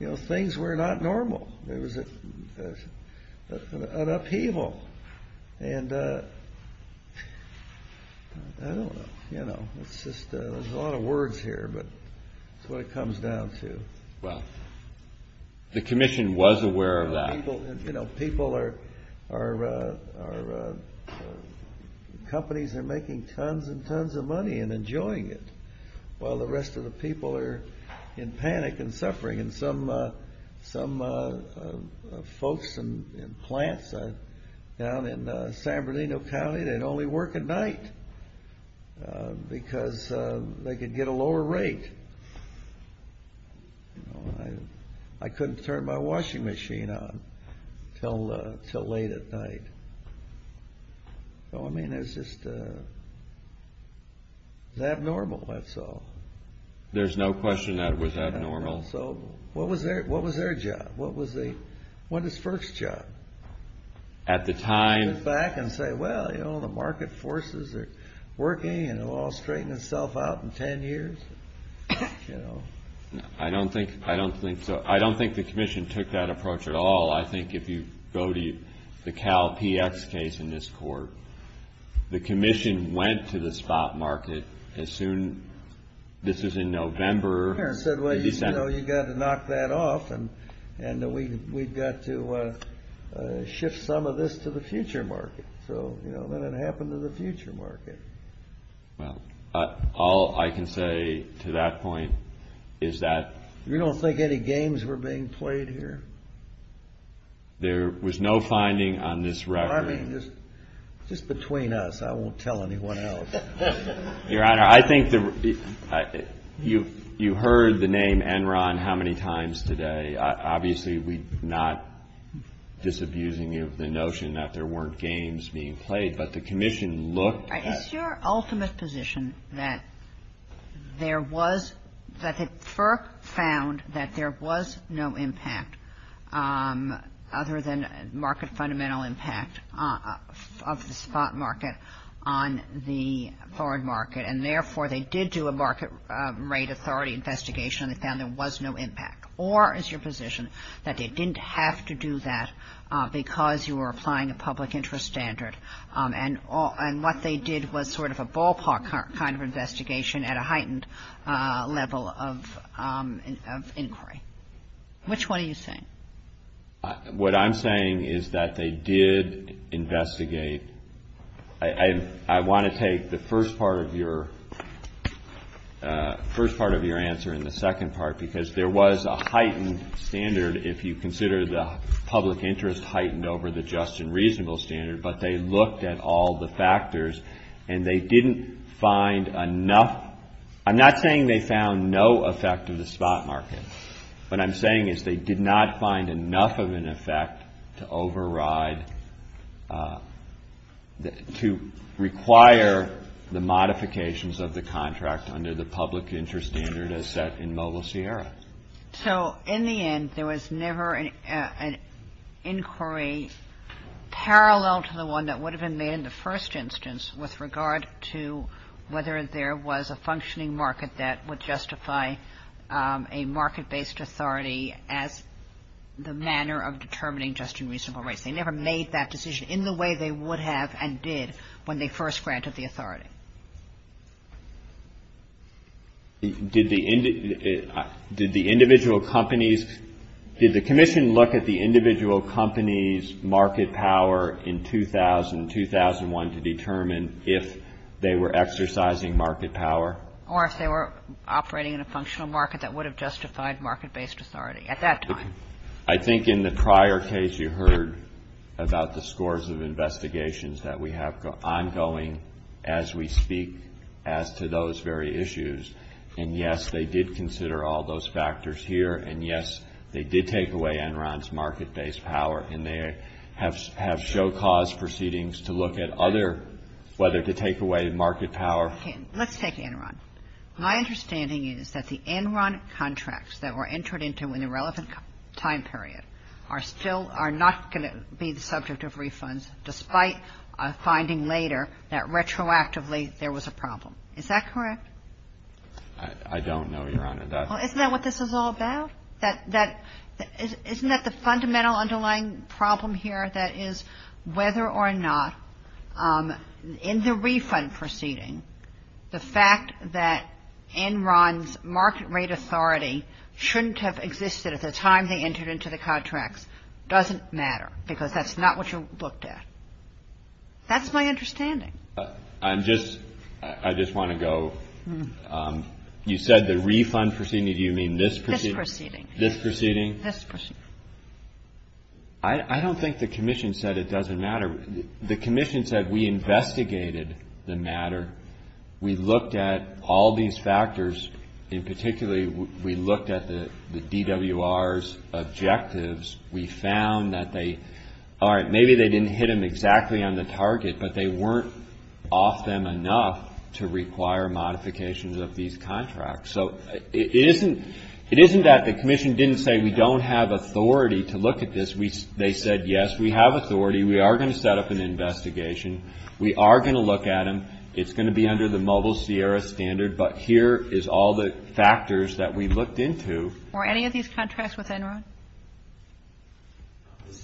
you know, things were not normal. There was an upheaval. And, you know, there's a lot of words here, but that's what it comes down to. Well, the commission was aware of that. You know, people are, companies are making tons and tons of money and enjoying it, while the rest of the people are in panic and suffering. And some folks in plants down in San Berlino County, they'd only work at night because they could get a lower rate. I couldn't turn my washing machine on until late at night. So, I mean, it was just abnormal, that's all. There's no question that it was abnormal. So what was their job? What was the, what was the first job? At the time... ...go back and say, well, you know, the market forces are working and will all straighten itself out in ten years, you know. I don't think, I don't think so. I don't think the commission took that approach at all. I think if you go to the CalPX case in this court, the commission went to the spot market as soon, this is in November. And said, well, you know, you've got to knock that off and we've got to shift some of this to the future market. So, you know, that happened to the future market. Well, all I can say to that point is that... You don't think any games were being played here? There was no finding on this record. I mean, just between us, I won't tell anyone else. Your Honor, I think you heard the name Enron how many times today. Obviously, we're not disabusing the notion that there weren't games being played. But the commission looked at... It's your ultimate position that there was, that it first found that there was no impact other than market fundamental impact of the spot market on the foreign market. And therefore, they did do a market rate authority investigation and found there was no impact. Or it's your position that they didn't have to do that because you were applying a public interest standard. And what they did was sort of a ballpark kind of investigation at a heightened level of inquiry. Which one are you saying? What I'm saying is that they did investigate. I want to take the first part of your answer and the second part because there was a heightened standard if you consider the public interest heightened over the just and reasonable standard. But they looked at all the factors and they didn't find enough... I'm not saying they found no effect of the spot market. What I'm saying is they did not find enough of an effect to override... to require the modifications of the contract under the public interest standard as set in Mobile Sierra. So, in the end, there was never an inquiry parallel to the one that would have been made in the first instance with regard to whether there was a functioning market that would justify a market-based authority as the manner of determining just and reasonable rates. They never made that decision in the way they would have and did when they first granted the authority. Did the individual companies... Did the commission look at the individual companies' market power in 2000 and 2001 to determine if they were exercising market power? Or if they were operating in a functional market that would have justified market-based authority at that time? I think in the prior case you heard about the scores of investigations that we have ongoing as we speak as to those very issues. And, yes, they did consider all those factors here. And, yes, they did take away Enron's market-based power and they have show cause proceedings to look at other... whether to take away market power. Okay. Let's take Enron. My understanding is that the Enron contracts that were entered into in a relevant time period are still... are not going to be the subject of refunds despite finding later that retroactively there was a problem. Is that correct? I don't know, Your Honor. Well, isn't that what this is all about? Isn't that the fundamental underlying problem here? That is whether or not in the refund proceeding the fact that Enron's market rate authority shouldn't have existed at the time they entered into the contracts doesn't matter because that's not what you looked at. That's my understanding. I'm just... I just want to go... You said the refund proceeding. Do you mean this proceeding? This proceeding. This proceeding? This proceeding. I don't think the Commission said it doesn't matter. The Commission said we investigated the matter. We looked at all these factors. In particular, we looked at the DWR's objectives. We found that they... All right, maybe they didn't hit them exactly on the target but they weren't off them enough to require modifications of these contracts. So it isn't that the Commission didn't say we don't have authority to look at this. They said, yes, we have authority. We are going to set up an investigation. We are going to look at them. It's going to be under the mobile Sierra standard but here is all the factors that we looked into. Were any of these contracts with Enron?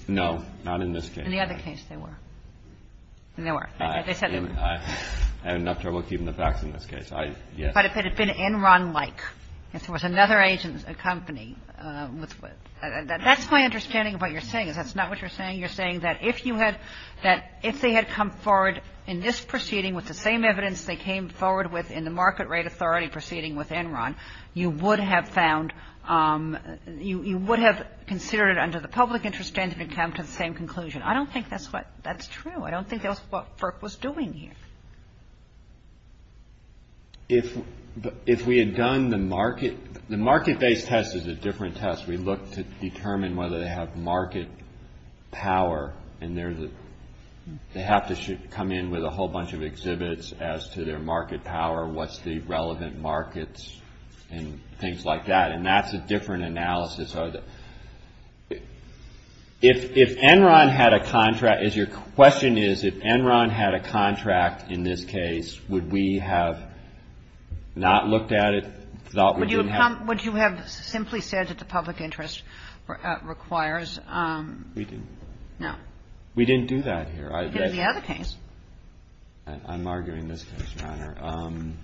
No, not in this case. In the other case they were. They were. I have enough trouble keeping the facts in this case. But if it had been Enron-like, if it was another agent's company, that's my understanding of what you're saying. If that's not what you're saying, you're saying that if they had come forward in this proceeding with the same evidence they came forward with in the Market Rate Authority proceeding with Enron, you would have considered it under the public interest standard to come to the same conclusion. I don't think that's true. No, I don't think that's what FERC was doing here. If we had done the market-based test is a different test. We looked to determine whether they have market power and they have to come in with a whole bunch of exhibits as to their market power, what's the relevant markets, and things like that. And that's a different analysis. If Enron had a contract, as your question is, if Enron had a contract in this case, would we have not looked at it? Would you have simply said that the public interest requires? We didn't. No. We didn't do that here. In the other case. I'm arguing this, Your Honor.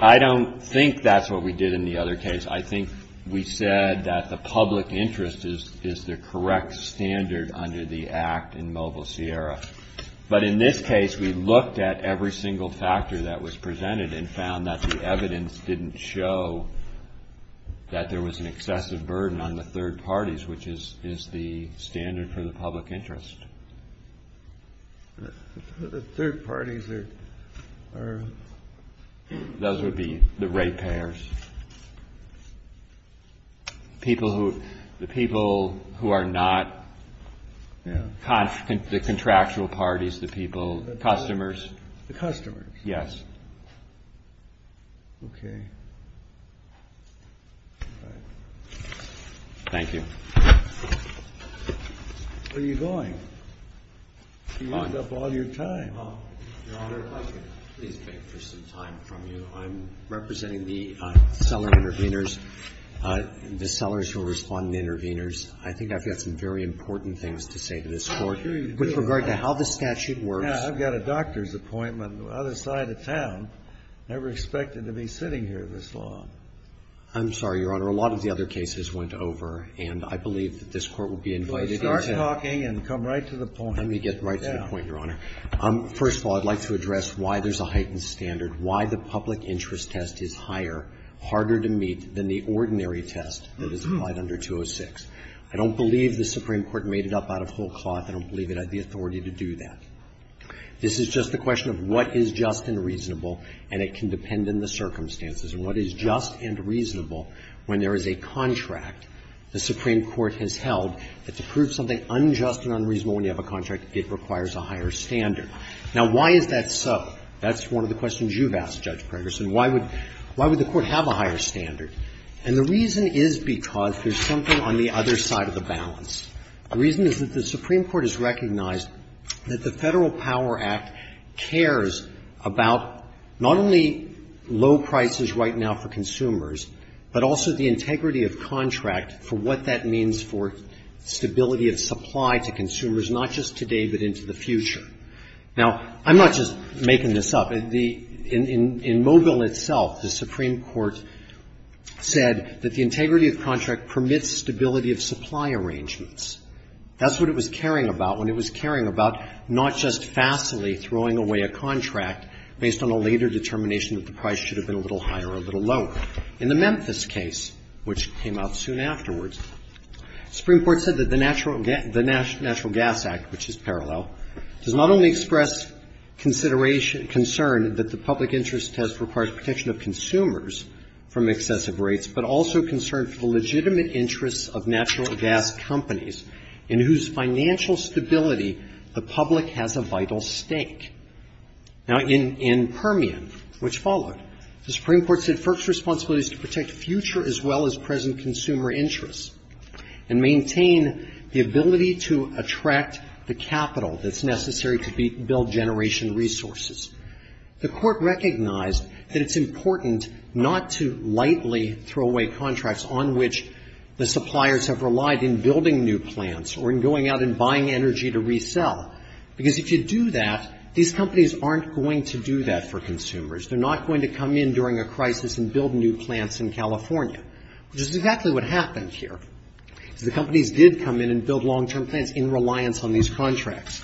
I don't think that's what we did in the other case. I think we said that the public interest is the correct standard under the Act in Mobile Sierra. But in this case, we looked at every single factor that was presented and found that the evidence didn't show that there was an excessive burden on the third parties, which is the standard for the public interest. The third parties are? Those would be the rate payers. The people who are not, the contractual parties, the people, the customers. The customers. Yes. Okay. Thank you. Where are you going? You wound up all your time. Your Honor, if I could please take just some time from you. I'm representing the seller intervenors, the sellers who are responding to the intervenors. I think I've got some very important things to say to this Court with regard to how the statute works. Now, I've got a doctor's appointment on the other side of town. I never expected to be sitting here this long. I'm sorry, Your Honor. A lot of the other cases went over, and I believe that this Court will be invited to start talking and come right to the point. Let me get right to the point, Your Honor. First of all, I'd like to address why there's a heightened standard, why the public interest test is higher, harder to meet than the ordinary test that is applied under 206. I don't believe the Supreme Court made it up out of whole cloth. I don't believe it had the authority to do that. This is just a question of what is just and reasonable, and it can depend on the circumstances. And what is just and reasonable when there is a contract the Supreme Court has held, that to prove something unjust and unreasonable when you have a contract, it requires a higher standard. Now, why is that so? That's one of the questions you've asked, Judge Ferguson. Why would the Court have a higher standard? And the reason is because there's something on the other side of the balance. The reason is that the Supreme Court has recognized that the Federal Power Act cares about not only low prices right now for consumers, but also the integrity of contract for what that means for stability of supply to consumers, not just today but into the future. Now, I'm not just making this up. In Mobile itself, the Supreme Court said that the integrity of contract permits stability of supply arrangements. That's what it was caring about, and it was caring about not just fastly throwing away a contract based on a later determination that the price should have been a little higher or a little lower. In the Memphis case, which came out soon afterwards, the Supreme Court said that the Natural Gas Act, which is parallel, does not only express concern that the public interest test requires protection of consumers from excessive rates, but also concerns the legitimate interests of natural gas companies in whose financial stability the public has a vital stake. Now, in Permian, which followed, the Supreme Court said FERC's responsibility is to protect future as well as present consumer interests and maintain the ability to attract the capital that's necessary to build generation resources. The court recognized that it's important not to lightly throw away contracts on which the suppliers have relied in building new plants or in going out and buying energy to resell, because if you do that, these companies aren't going to do that for consumers. They're not going to come in during a crisis and build new plants in California, which is exactly what happened here. The companies did come in and build long-term plans in reliance on these contracts.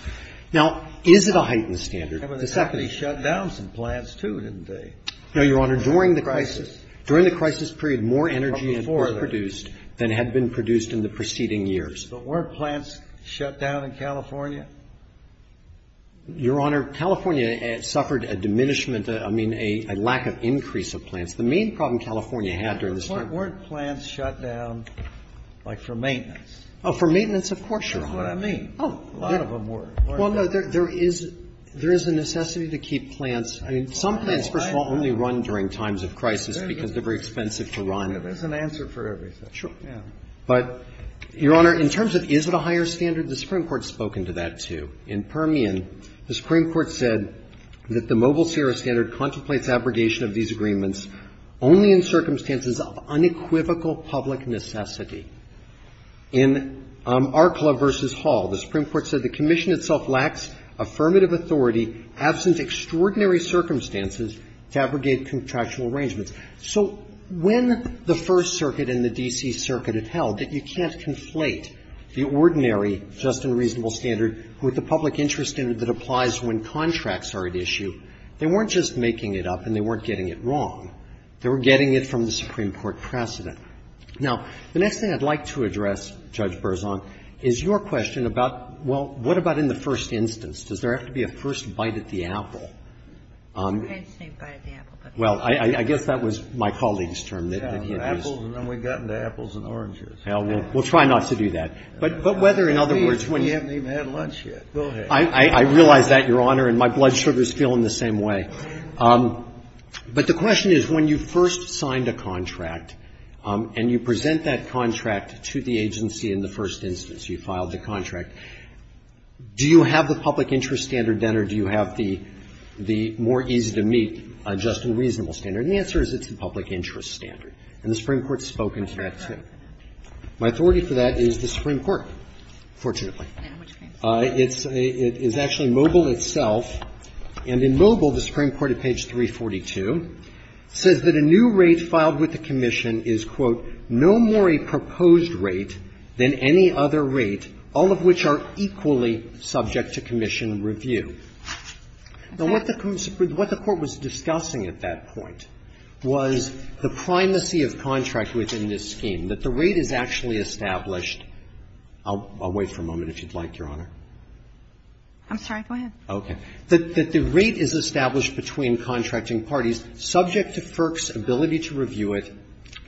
Now, is it a heightened standard? The company shut down some plants, too, didn't they? No, Your Honor. During the crisis period, more energy was produced than had been produced in the preceding years. But weren't plants shut down in California? Your Honor, California suffered a diminishment, I mean, a lack of increase of plants. The main problem California had during this time... But weren't plants shut down, like, for maintenance? Oh, for maintenance, of course, Your Honor. That's what I mean. Oh, a lot of them were. Well, no, there is a necessity to keep plants... I mean, some plants, first of all, only run during times of crisis, because they're very expensive to run. There's an answer for everything. Sure. But, Your Honor, in terms of is it a higher standard, the Supreme Court has spoken to that, too. In Permian, the Supreme Court said that the Mobile Sierra Standard contemplates abrogation of these agreements only in circumstances of unequivocal public necessity. In Arklow v. Hall, the Supreme Court said the commission itself lacks affirmative authority, absence of extraordinary circumstances to abrogate contractual arrangements. So, when the First Circuit and the D.C. Circuit have held that you can't conflate the ordinary just and reasonable standard with the public interest standard that applies when contracts are at issue, they weren't just making it up and they weren't getting it wrong. They were getting it from the Supreme Court precedent. Now, the next thing I'd like to address, Judge Berzon, is your question about, well, what about in the first instance? Does there have to be a first bite at the apple? I'd say bite at the apple. Well, I guess that was my colleague's term. Apples, and then we've gotten to apples and oranges. We'll try not to do that. But whether, in other words... We haven't even had lunch yet. I realize that, Your Honor, and my blood sugar is still in the same way. But the question is, when you first signed a contract and you present that contract to the agency in the first instance, you filed the contract, do you have the public interest standard then or do you have the more easy-to-meet just and reasonable standard? And the answer is it's the public interest standard. And the Supreme Court has spoken to that, too. My authority for that is the Supreme Court, fortunately. It's actually Mobile itself, and in Mobile, the Supreme Court at page 342, says that a new rate filed with the commission is, quote, no more a proposed rate than any other rate, all of which are equally subject to commission review. Now, what the court was discussing at that point was the primacy of contract within this scheme, that the rate is actually established... I'll wait for a moment, if you'd like, Your Honor. I'm sorry, go ahead. Okay. That the rate is established between contracting parties subject to FERC's ability to review it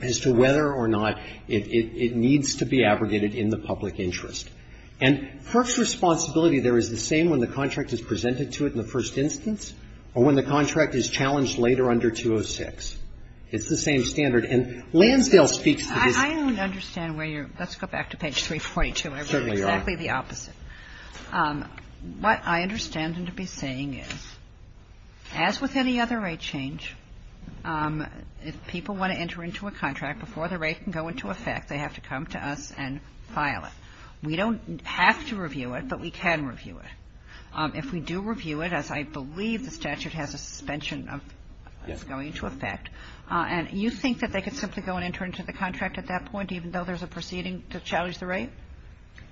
as to whether or not it needs to be aggregated in the public interest. And FERC's responsibility there is the same when the contract is presented to it in the first instance or when the contract is challenged later under 206. It's the same standard. And Lansdale speaks to this... I don't understand where you're... Let's go back to page 342. Certainly, Your Honor. It's exactly the opposite. What I understand them to be saying is, as with any other rate change, if people want to enter into a contract, before the rate can go into effect, they have to come to us and file it. We don't have to review it, but we can review it. If we do review it, as I believe the statute has a suspension of going into effect, and you think that they could simply go and enter into the contract at that point, even though there's a proceeding to challenge the rate?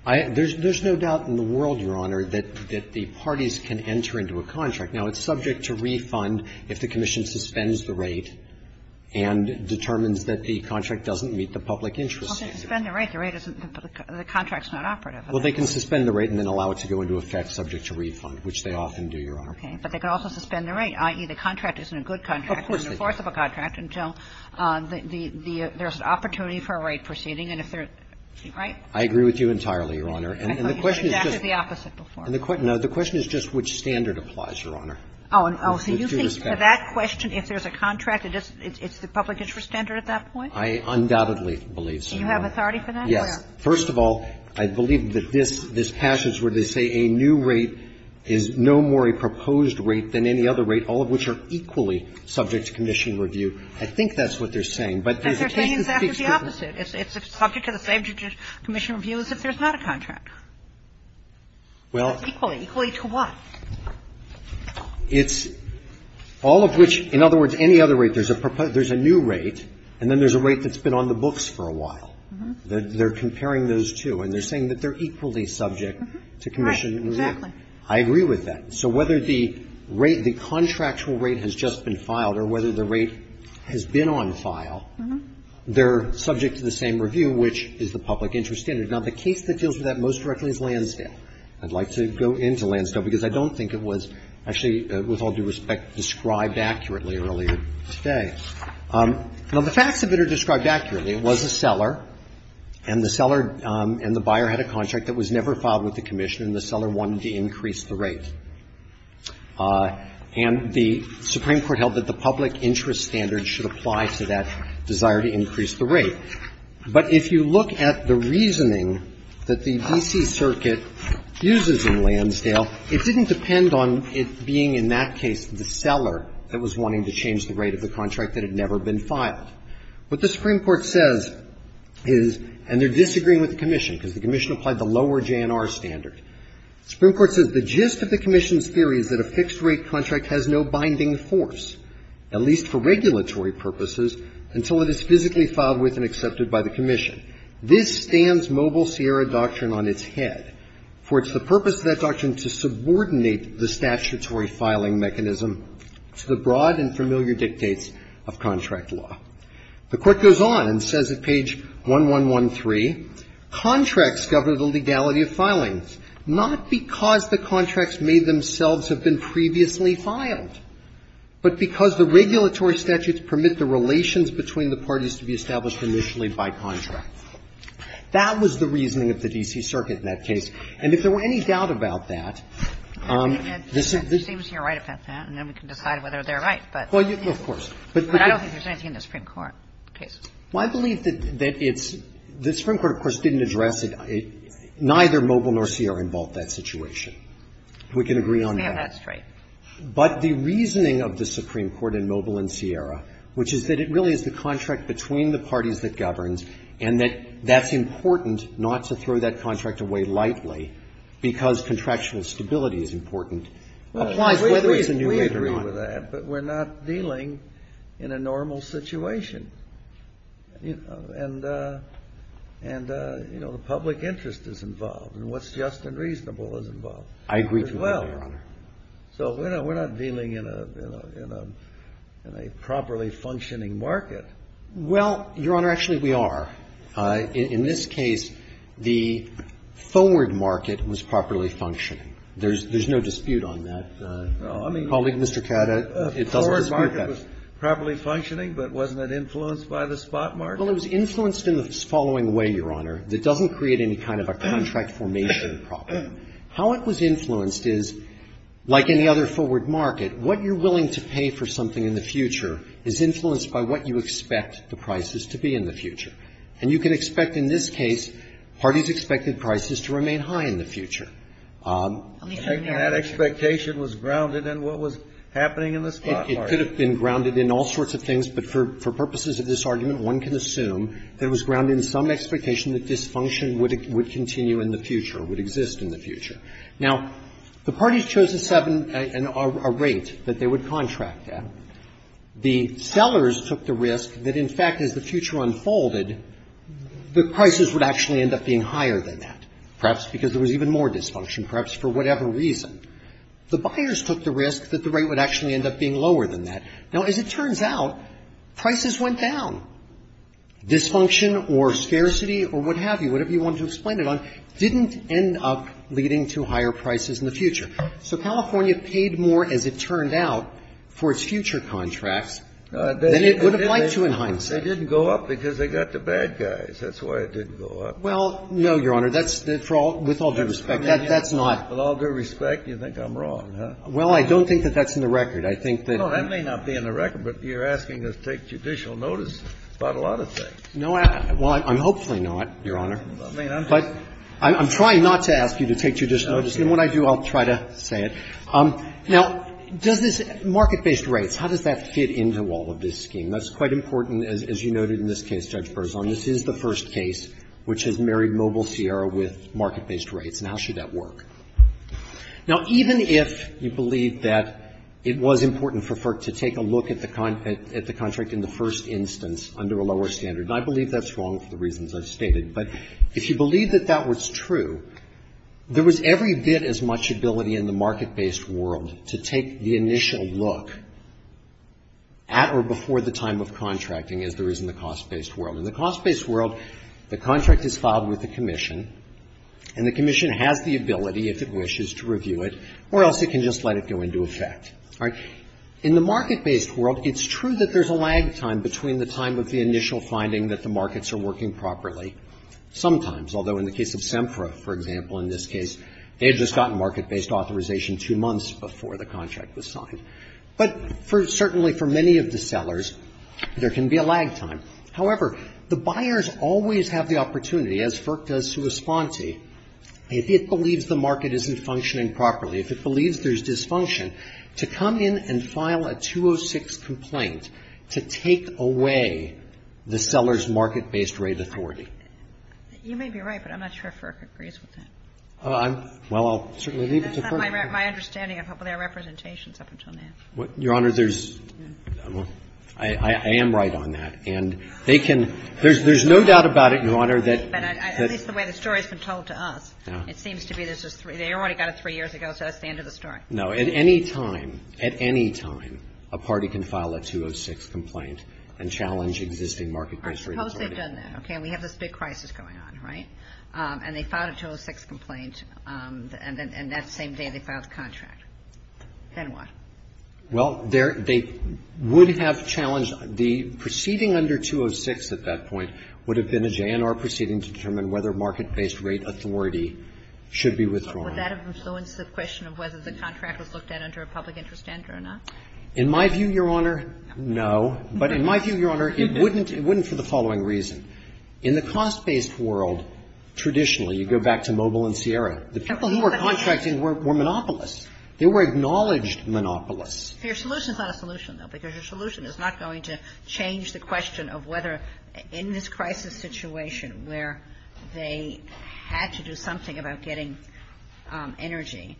There's no doubt in the world, Your Honor, that the parties can enter into a contract. Now, it's subject to refund if the commission suspends the rate and determines that the contract doesn't meet the public interest standard. Okay. Suspend the rate. The rate isn't... The contract's not operative. Well, they can suspend the rate and then allow it to go into effect subject to refund, which they often do, Your Honor. Okay. But they can also suspend the rate, i.e., the contract isn't a good contract. Of course it is. In the course of a contract until there's an opportunity for a rate proceeding, and if there's... Right? I agree with you entirely, Your Honor. And the question is just... That's the opposite, before. No. The question is just which standard applies, Your Honor. Oh. So you think to that question, if there's a contract, it's the public interest standard at that point? I undoubtedly believe so, Your Honor. Do you have authority for that? Yeah. First of all, I believe that this passage where they say a new rate is no more a proposed rate than any other rate, all of which are equally subject to commission review. I think that's what they're saying, but... And they're saying exactly the opposite. It's subject to the Federal Commission Review that there's not a contract. Well... Equally. Equally to what? It's all of which, in other words, any other rate, there's a new rate, and then there's a rate that's been on the books for a while. They're comparing those two, and they're saying that they're equally subject to commission review. Right. Exactly. I agree with that. So whether the rate, the contractual rate has just been filed, or whether the rate has been on file, they're subject to the same review, which is the public interest standard. Now, the case that deals with that most directly is Lansdale. I'd like to go into Lansdale, because I don't think it was actually, with all due respect, described accurately earlier today. Now, the fact of it is described accurately. It was a seller, and the seller and the buyer had a contract that was never filed with the commissioner, and the seller wanted to increase the rate. And the Supreme Court held that the public interest standard should apply to that desire to increase the rate. But if you look at the reasoning that the D.C. Circuit uses in Lansdale, it didn't depend on it being, in that case, the seller that was wanting to change the rate of the contract that had never been filed. What the Supreme Court says is, and they're disagreeing with the commission, because the commission applied the lower JNR standard. The Supreme Court says, The gist of the commission's theory is that a fixed-rate contract has no binding force, at least for regulatory purposes, until it is physically filed with and accepted by the commission. This stands Mobile Sierra Doctrine on its head, for it's the purpose of that doctrine to subordinate the statutory filing mechanism to the broad and familiar dictates of contract law. The court goes on and says at page 1113, Contracts govern the legality of filings, not because the contracts may themselves have been previously filed, but because the regulatory statutes permit the relations between the parties to be established initially by contract. That was the reasoning of the D.C. Circuit in that case. And if there were any doubt about that, It seems you're right about that, and then we can decide whether they're right. Well, of course. But I don't think there's anything in the Supreme Court case. Well, I believe that the Supreme Court, of course, didn't address it. Neither Mobile nor Sierra involved that situation. We can agree on that. Yeah, that's right. But the reasoning of the Supreme Court in Mobile and Sierra, which is that it really is the contract between the parties that governs, and that that's important not to throw that contract away lightly, because contractual stability is important. We agree with that, but we're not dealing in a normal situation. And, you know, the public interest is involved, and what's just and reasonable is involved. I agree with that, Your Honor. So we're not dealing in a properly functioning market. Well, Your Honor, actually we are. In this case, the forward market was properly functioning. There's no dispute on that. No, I mean, the forward market was properly functioning, but wasn't it influenced by the spot market? Well, it was influenced in the following way, Your Honor. It doesn't create any kind of a contract formation problem. How it was influenced is, like any other forward market, what you're willing to pay for something in the future is influenced by what you expect the prices to be in the future. And you can expect, in this case, parties' expected prices to remain high in the future. That expectation was grounded in what was happening in the spot market. It could have been grounded in all sorts of things, but for purposes of this argument, one can assume that it was grounded in some expectation that this function would continue in the future, would exist in the future. Now, the parties chose a rate that they would contract at. The sellers took the risk that, in fact, as the future unfolded, the prices would actually end up being higher than that, perhaps because there was even more dysfunction, perhaps for whatever reason. The buyers took the risk that the rate would actually end up being lower than that. Now, as it turns out, prices went down. Dysfunction or scarcity or what have you, whatever you want to explain it on, didn't end up leading to higher prices in the future. So California paid more, as it turned out, for its future contract than it would have liked to in hindsight. They didn't go up because they got the bad guys. That's why it didn't go up. Well, no, Your Honor. That's, with all due respect, that's not. With all due respect, you think I'm wrong, huh? Well, I don't think that that's in the record. No, that may not be in the record, but you're asking us to take judicial notice about a lot of things. Well, I'm hopefully not, Your Honor. But I'm trying not to ask you to take judicial notice. And when I do, I'll try to say it. Now, does this market-based rates, how does that fit into all of this scheme? That's quite important, as you noted in this case, Judge Berzon. This is the first case which has married Mobile Sierra with market-based rates. Now, how should that work? Now, even if you believe that it was important for FERC to take a look at the contract in the first instance under a lower standard, and I believe that's wrong for the reasons I've stated, but if you believe that that was true, there was every bit as much ability in the market-based world to take the initial look at or before the time of contracting as there is in the cost-based world. In the cost-based world, the contract is filed with the commission, and the commission has the ability, if it wishes, to review it, or else it can just let it go into effect. All right? In the market-based world, it's true that there's a lag time between the time of the initial finding that the markets are working properly. Sometimes, although in the case of SEMCRA, for example, in this case, they had just gotten market-based authorization two months before the contract was signed. But certainly for many of the sellers, there can be a lag time. However, the buyers always have the opportunity, as FERC does to a spontee, if it believes the market isn't functioning properly, if it believes there's dysfunction, to come in and file a 206 complaint to take away the seller's market-based raise authority. You may be right, but I'm not sure FERC agrees with that. Well, I'll certainly leave it to FERC. That's not my understanding of their representations up until now. Your Honor, there's – I am right on that. And they can – there's no doubt about it, Your Honor, that – At least the way the story's been told to us. It seems to be they already got it three years ago, so that's the end of the story. No, at any time – at any time, a party can file a 206 complaint and challenge existing market-based raise authority. I suppose they've done that, okay? We have this big crisis going on, right? And they filed a 206 complaint, and that same day they filed a contract. Then what? Well, they would have challenged – the proceeding under 206 at that point would have been a JNR proceeding to determine whether market-based raise authority should be withdrawn. Would that have influenced the question of whether the contract was looked at under a public interest standard or not? In my view, Your Honor, no. But in my view, Your Honor, it wouldn't – it wouldn't for the following reason. In the cost-based world, traditionally, you go back to Mogul and Sierra. The people who were contracting were monopolists. They were acknowledged monopolists. Your solution is not a solution, though, because your solution is not going to change the question of whether in this crisis situation where they had to do something about getting energy,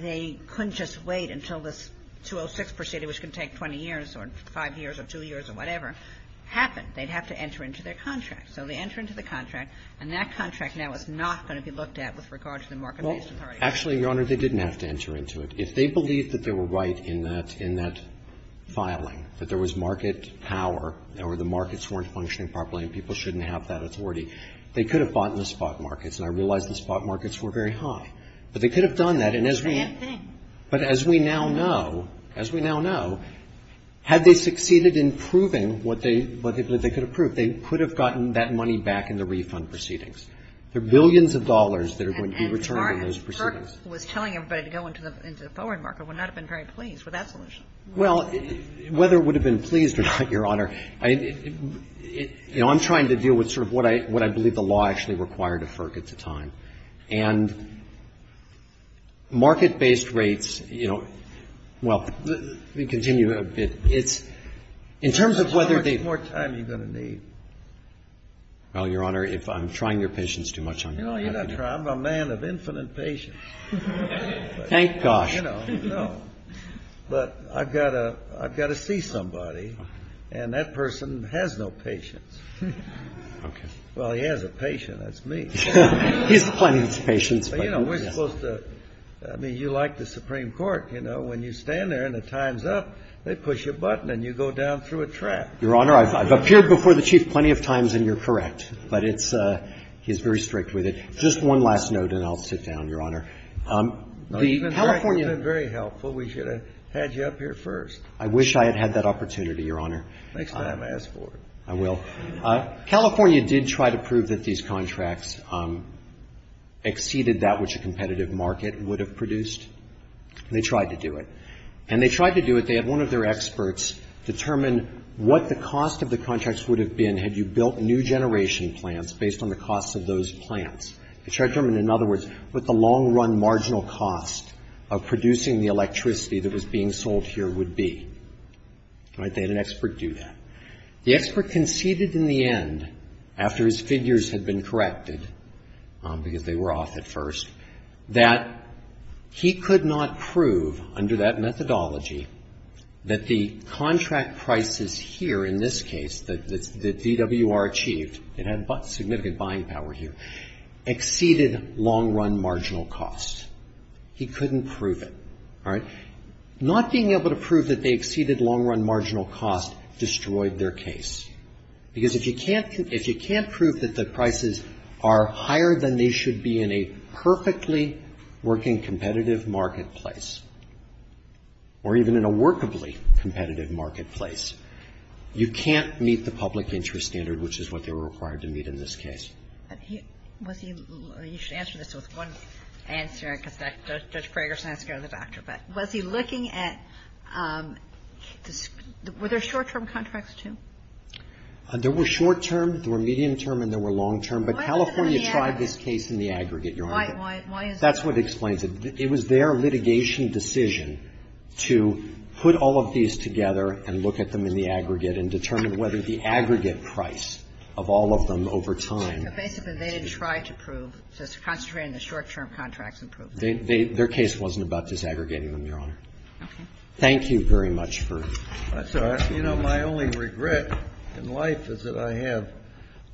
they couldn't just wait until this 206 proceeding, which can take 20 years or five years or two years or whatever, happened. They'd have to enter into their contract. So they enter into the contract, and that contract now is not going to be looked at with regard to the market-based authority. Actually, Your Honor, they didn't have to enter into it. If they believed that they were right in that – in that filing, that there was market power, or the markets weren't functioning properly and people shouldn't have that authority, they could have bought in the spot markets, and I realize the spot markets were very high. But they could have done that, and as we – But as we now know – as we now know, had they succeeded in proving what they – what they could have proved, they could have gotten that money back in the refund proceedings. There are billions of dollars that are going to be returned in those proceedings. But FERC, with telling everybody to go into the foreign market, would not have been very pleased with that solution. Well, whether it would have been pleased or not, Your Honor, I – you know, I'm trying to deal with sort of what I – what I believe the law actually required of FERC at the time. And market-based rates, you know – well, let me continue a bit. It's – in terms of whether the – It's more time you're going to need. Well, Your Honor, if I'm trying your patience too much, I'm – No, you're not trying – I'm a man of infinite patience. Thank gosh. You know, no. But I've got to – I've got to see somebody, and that person has no patience. Well, he has a patient. That's me. He has plenty of patience. But, you know, we're supposed to – I mean, you like the Supreme Court, you know. When you stand there and the time's up, they push a button and you go down through a trap. Your Honor, I've appeared before the Chief plenty of times, and you're correct. But it's – he's very strict with it. Just one last note, and I'll sit down, Your Honor. The California – That's very helpful. We should have had you up here first. I wish I had had that opportunity, Your Honor. Next time, ask for it. I will. California did try to prove that these contracts exceeded that which a competitive market would have produced. They tried to do it. And they tried to do it. They had one of their experts determine what the cost of the contracts would have been had you built new generation plants based on the cost of those plants. They tried to determine, in other words, what the long-run marginal cost of producing the electricity that was being sold here would be. They had an expert do that. The expert conceded in the end, after his figures had been corrected, because they were off at first, that he could not prove, under that methodology, that the contract prices here, in this case, that DWR achieved – it had significant buying power here – exceeded long-run marginal costs. He couldn't prove it. All right? Not being able to prove that they exceeded long-run marginal costs destroyed their case. Because if you can't prove that the prices are higher than they should be in a perfectly working competitive marketplace, or even in a workably competitive marketplace, you can't meet the public interest standard, which is what they were required to meet in this case. You should answer this with one answer, I suspect. Judge Greger's not here as a doctor, but was he looking at – were there short-term contracts, too? There were short-term, there were medium-term, and there were long-term. But California tried this case in the aggregate, Your Honor. Why is that? That's what explains it. It was their litigation decision to put all of these together and look at them in the aggregate and determine whether the aggregate price of all of them over time – Basically, they tried to prove – to concentrate on the short-term contracts and prove it. Their case wasn't about disaggregating them, Your Honor. Thank you very much for – That's all right. You know, my only regret in life is that I have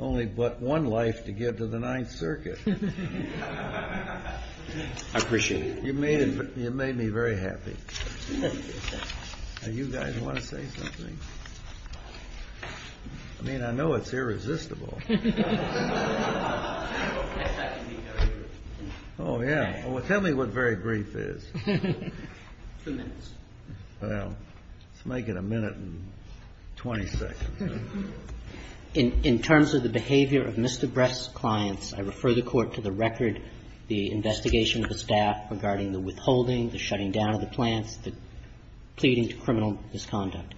only but one life to give to the Ninth Circuit. I appreciate it. You made me very happy. Now, you guys want to say something? I mean, I know it's irresistible. Oh, yeah. Well, tell me what very brief is. Two minutes. Well, let's make it a minute and 20 seconds. In terms of the behavior of Mr. Bress's clients, I refer the Court to the record, the investigation of the staff regarding the withholding, the shutting down of the plant, the pleading to criminal misconduct.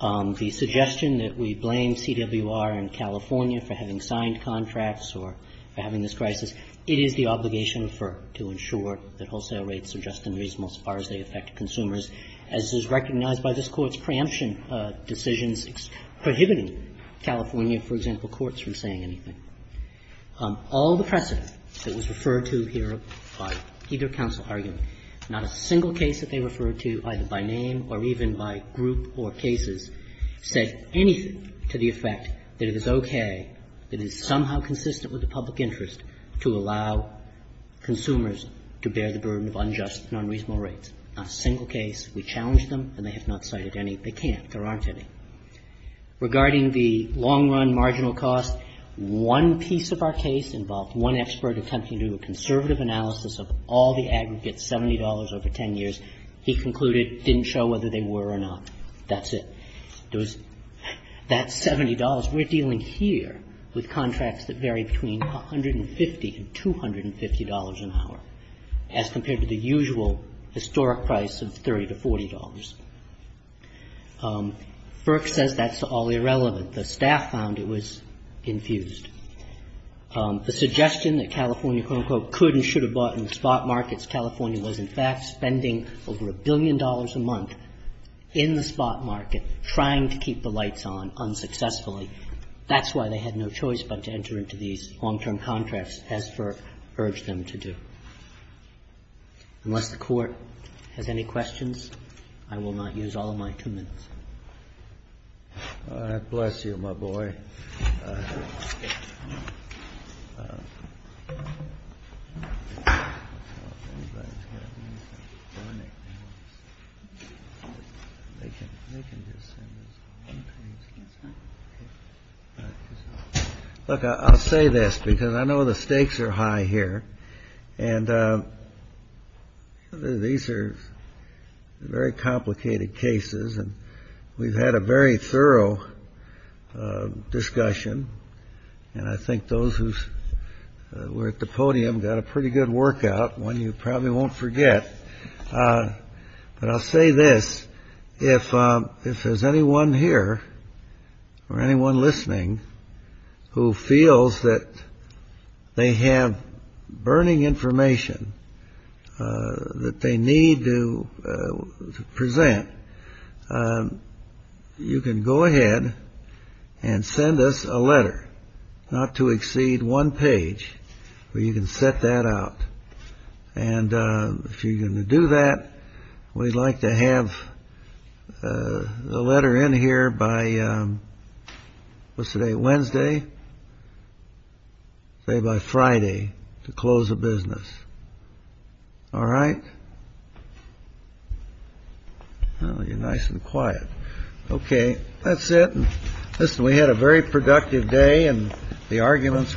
The suggestion that we blame CWR and California for having signed contracts or having this crisis, it is the obligation of FERC to ensure that wholesale rates are just and reasonable as far as they affect consumers, as is recognized by this Court's preemption decisions prohibiting California, for example, courts from saying anything. All the precedent that was referred to here by either counsel argument, not a single case that they referred to, either by name or even by group or cases, said anything to the effect that it is okay and is somehow consistent with the public interest to allow consumers to bear the burden of unjust and unreasonable rates. Not a single case. We challenge them, and they have not cited any. They can't. There aren't any. Regarding the long-run marginal cost, one piece of our case involved one expert attempting to do a conservative analysis of all the aggregate $70 over 10 years. He concluded, didn't show whether they were or not. That's it. That $70, we're dealing here with contracts that vary between $150 and $250 an hour, as compared to the usual historic price of $30 to $40. Burke says that's all irrelevant. The staff found it was infused. The suggestion that California, quote, unquote, could and should have bought in the spot markets, California was in fact spending over a billion dollars a month in the spot market trying to keep the lights on unsuccessfully. That's why they had no choice but to enter into these long-term contracts, as Burke urged them to do. Unless the Court has any questions? I will not use all of my two minutes. Bless you, my boy. Look, I'll say this because I know the stakes are high here. And these are very complicated cases. And we've had a very thorough discussion. And I think those who were at the podium got a pretty good workout, one you probably won't forget. But I'll say this. If there's anyone here or anyone listening who feels that they have burning information that they need to present, you can go ahead and send us a letter, not to exceed one page, but you can set that up. And if you're going to do that, we'd like to have the letter in here by, what's today, Wednesday? Say by Friday to close the business. All right? Well, you're nice and quiet. Okay, that's it. Listen, we had a very productive day, and the arguments were great.